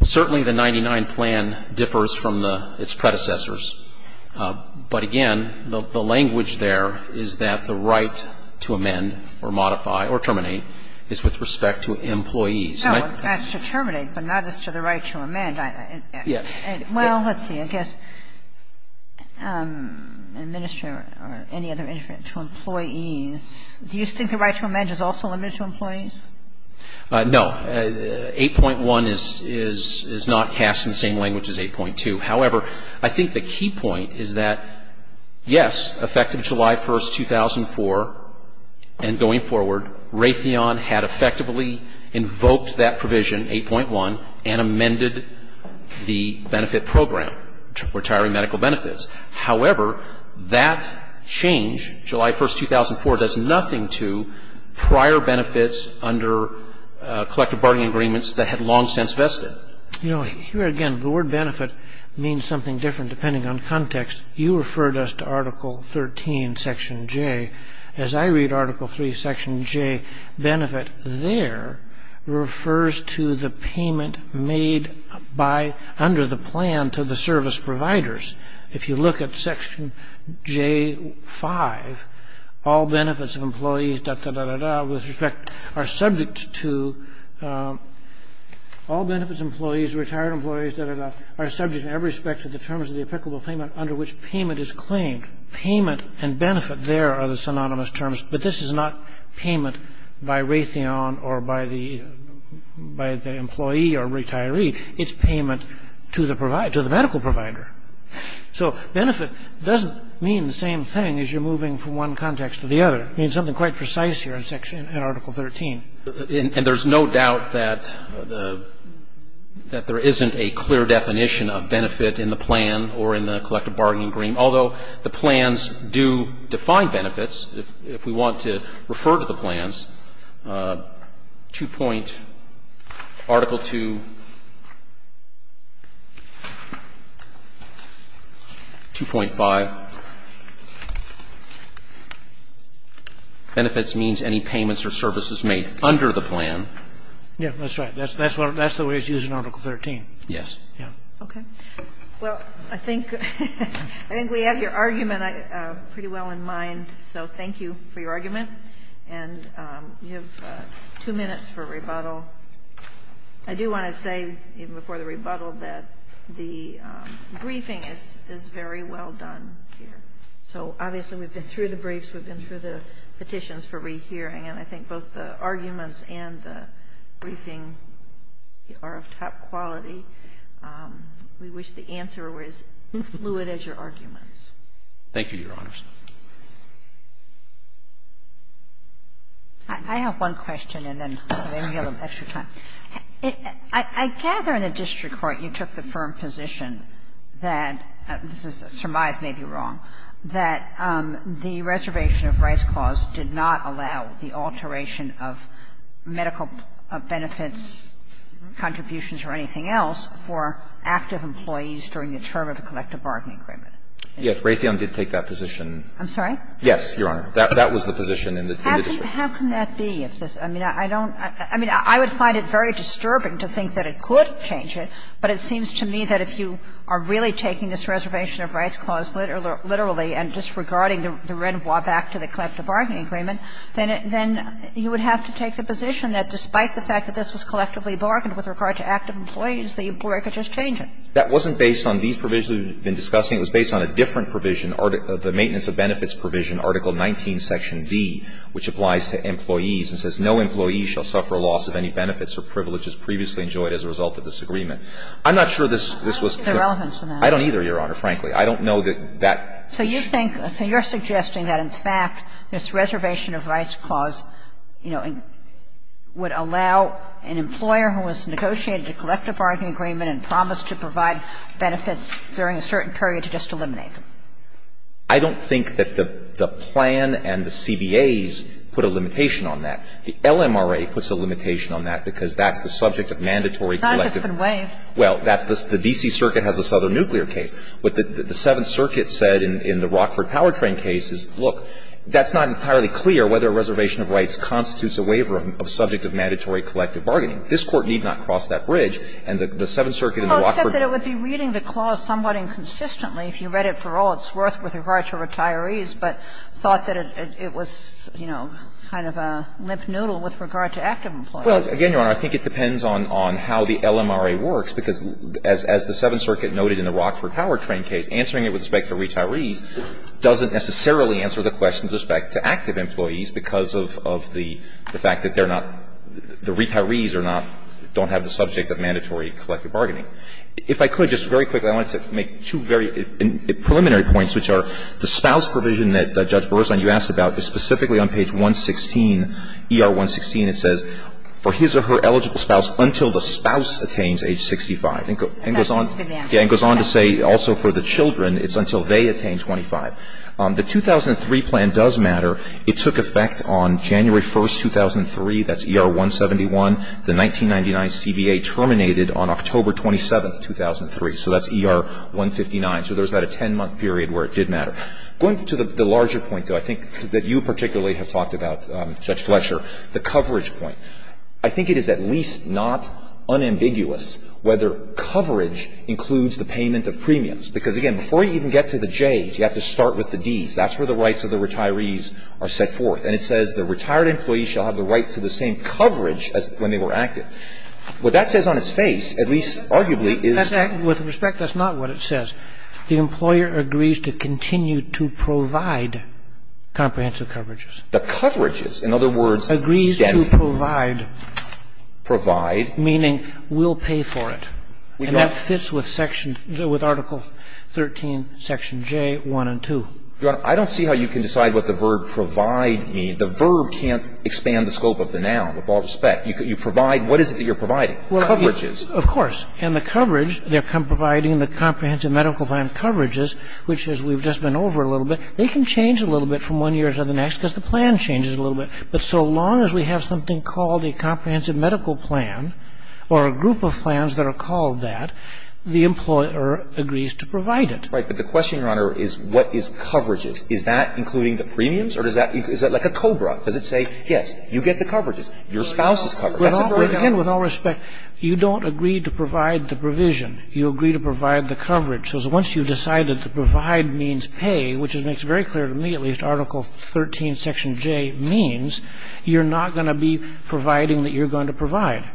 Certainly, the 99 plan differs from its predecessors. But again, the language there is that the right to amend or modify or terminate is with respect to employees. And I think that's the case. Kagan No, it's not to terminate, but not as to the right to amend. Well, let's see, I guess, administer or any other interest to employees. Do you think the right to amend is also limited to employees? No. 8.1 is not cast in the same language as 8.2. However, I think the key point is that, yes, effective July 1, 2004, and going forward, Raytheon had effectively invoked that provision, 8.1, and amended the benefit program, retiring medical benefits. However, that change, July 1, 2004, does nothing to prior benefits under collective bargaining agreements that had long since vested. You know, here again, the word benefit means something different depending on context. You referred us to Article 13, Section J. As I read Article 3, Section J, benefit there refers to the payment made under the plan to the service providers. If you look at Section J5, all benefits of employees, da, da, da, da, da, with respect, are subject to all benefits of employees, retired employees, da, da, da, are subject in every respect to the terms of the applicable payment under which payment is claimed. Payment and benefit, there are the synonymous terms, but this is not payment by Raytheon or by the employee or retiree. It's payment to the medical provider. So benefit doesn't mean the same thing as you're moving from one context to the other. It means something quite precise here in Article 13. And there's no doubt that there isn't a clear definition of benefit in the plan or in the collective bargaining agreement. Although the plans do define benefits, if we want to refer to the plans, 2. Article 2, 2.5, benefits means any payments or services made under the plan. Yeah, that's right. That's the way it's used in Article 13. Yes. Okay. Well, I think we have your argument pretty well in mind. So thank you for your argument. And you have two minutes for rebuttal. I do want to say, even before the rebuttal, that the briefing is very well done here. So obviously, we've been through the briefs. We've been through the petitions for rehearing. And I think both the arguments and the briefing are of top quality. We wish the answer were as fluid as your arguments. Thank you, Your Honors. I have one question and then we'll give them extra time. I gather in the district court you took the firm position that this is surmised, maybe wrong, that the reservation of rights clause did not allow the alteration of medical benefits, contributions, or anything else for active employees during the term of the collective bargaining agreement. Yes. Raytheon did take that position. I'm sorry? Yes, Your Honor. That was the position in the district. How can that be? I mean, I don't – I mean, I would find it very disturbing to think that it could change it, but it seems to me that if you are really taking this reservation of rights clause literally and disregarding the Renoir back to the collective You have to take the position that despite the fact that this was collectively bargained with regard to active employees, the employer could just change it. That wasn't based on these provisions we've been discussing. It was based on a different provision, the maintenance of benefits provision, Article 19, Section D, which applies to employees and says no employee shall suffer a loss of any benefits or privileges previously enjoyed as a result of this agreement. I'm not sure this was the relevance of that. I don't either, Your Honor, frankly. I don't know that that – So you think – so you're suggesting that, in fact, this reservation of rights clause, you know, would allow an employer who has negotiated a collective bargaining agreement and promised to provide benefits during a certain period to just eliminate them? I don't think that the plan and the CBAs put a limitation on that. The LMRA puts a limitation on that because that's the subject of mandatory collective – That has been waived. Well, that's the – the D.C. Circuit has a Southern Nuclear case. What the Seventh Circuit said in the Rockford Powertrain case is, look, that's not entirely clear whether a reservation of rights constitutes a waiver of subject of mandatory collective bargaining. This Court need not cross that bridge, and the Seventh Circuit in the Rockford – Well, except that it would be reading the clause somewhat inconsistently if you read it for all its worth with regard to retirees, but thought that it was, you know, kind of a limp noodle with regard to active employees. Well, again, Your Honor, I think it depends on how the LMRA works, because as the Seventh Circuit noted in the Rockford Powertrain case, answering it with respect to retirees doesn't necessarily answer the question with respect to active employees because of the fact that they're not – the retirees are not – don't have the subject of mandatory collective bargaining. If I could, just very quickly, I wanted to make two very preliminary points, which are the spouse provision that Judge Berzon, you asked about, is specifically on page 116, ER116. It says, For his or her eligible spouse until the spouse attains age 65. So they attain 25. The 2003 plan does matter. It took effect on January 1, 2003. That's ER171. The 1999 CBA terminated on October 27, 2003. So that's ER159. So there's about a 10-month period where it did matter. Going to the larger point, though, I think that you particularly have talked about, Judge Fletcher, the coverage point. I think it is at least not unambiguous whether coverage includes the payment of premiums. Because, again, before you even get to the Js, you have to start with the Ds. That's where the rights of the retirees are set forth. And it says, The retired employee shall have the right to the same coverage as when they were active. What that says on its face, at least arguably, is – With respect, that's not what it says. The employer agrees to continue to provide comprehensive coverages. The coverages, in other words – Agrees to provide. Provide. Meaning we'll pay for it. And that fits with section – with Article – 13, section J, 1 and 2. Your Honor, I don't see how you can decide what the verb provide means. The verb can't expand the scope of the noun. With all respect, you provide – what is it that you're providing? Coverages. Of course. And the coverage, they're providing the comprehensive medical plan coverages, which, as we've just been over a little bit, they can change a little bit from one year to the next because the plan changes a little bit. But so long as we have something called a comprehensive medical plan or a group of plans that are called that, the employer agrees to provide it. Right. But the question, Your Honor, is what is coverages? Is that including the premiums? Or does that – is that like a cobra? Does it say, yes, you get the coverages, your spouse is covered? That's a verb. Again, with all respect, you don't agree to provide the provision. You agree to provide the coverage. So once you've decided to provide means pay, which makes it very clear to me, at going to provide.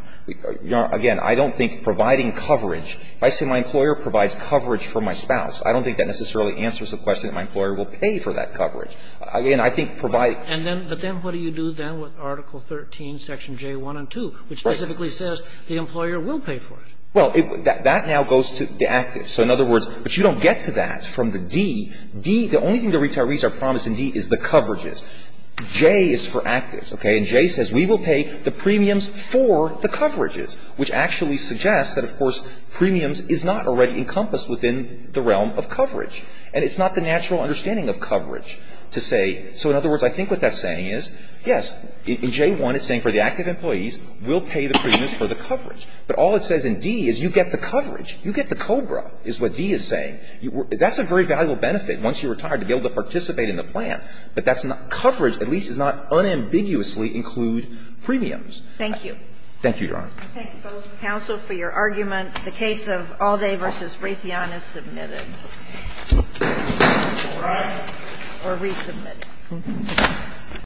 Your Honor, again, I don't think providing coverage, if I say my employer provides coverage for my spouse, I don't think that necessarily answers the question that my employer will pay for that coverage. Again, I think providing – And then what do you do then with Article 13, section J1 and 2, which specifically says the employer will pay for it? Well, that now goes to the active. So in other words, but you don't get to that from the D. D, the only thing the retirees are promised in D is the coverages. J is for actives, okay? And J says we will pay the premiums for the coverages, which actually suggests that, of course, premiums is not already encompassed within the realm of coverage. And it's not the natural understanding of coverage to say – so in other words, I think what that's saying is, yes, in J1 it's saying for the active employees, we'll pay the premiums for the coverage. But all it says in D is you get the coverage. You get the COBRA, is what D is saying. That's a very valuable benefit once you retire to be able to participate in the But that's not – coverage, at least, does not unambiguously include premiums. Thank you. Thank you, Your Honor. I thank the counsel for your argument. The case of Alde v. Raytheon is submitted. Or resubmitted.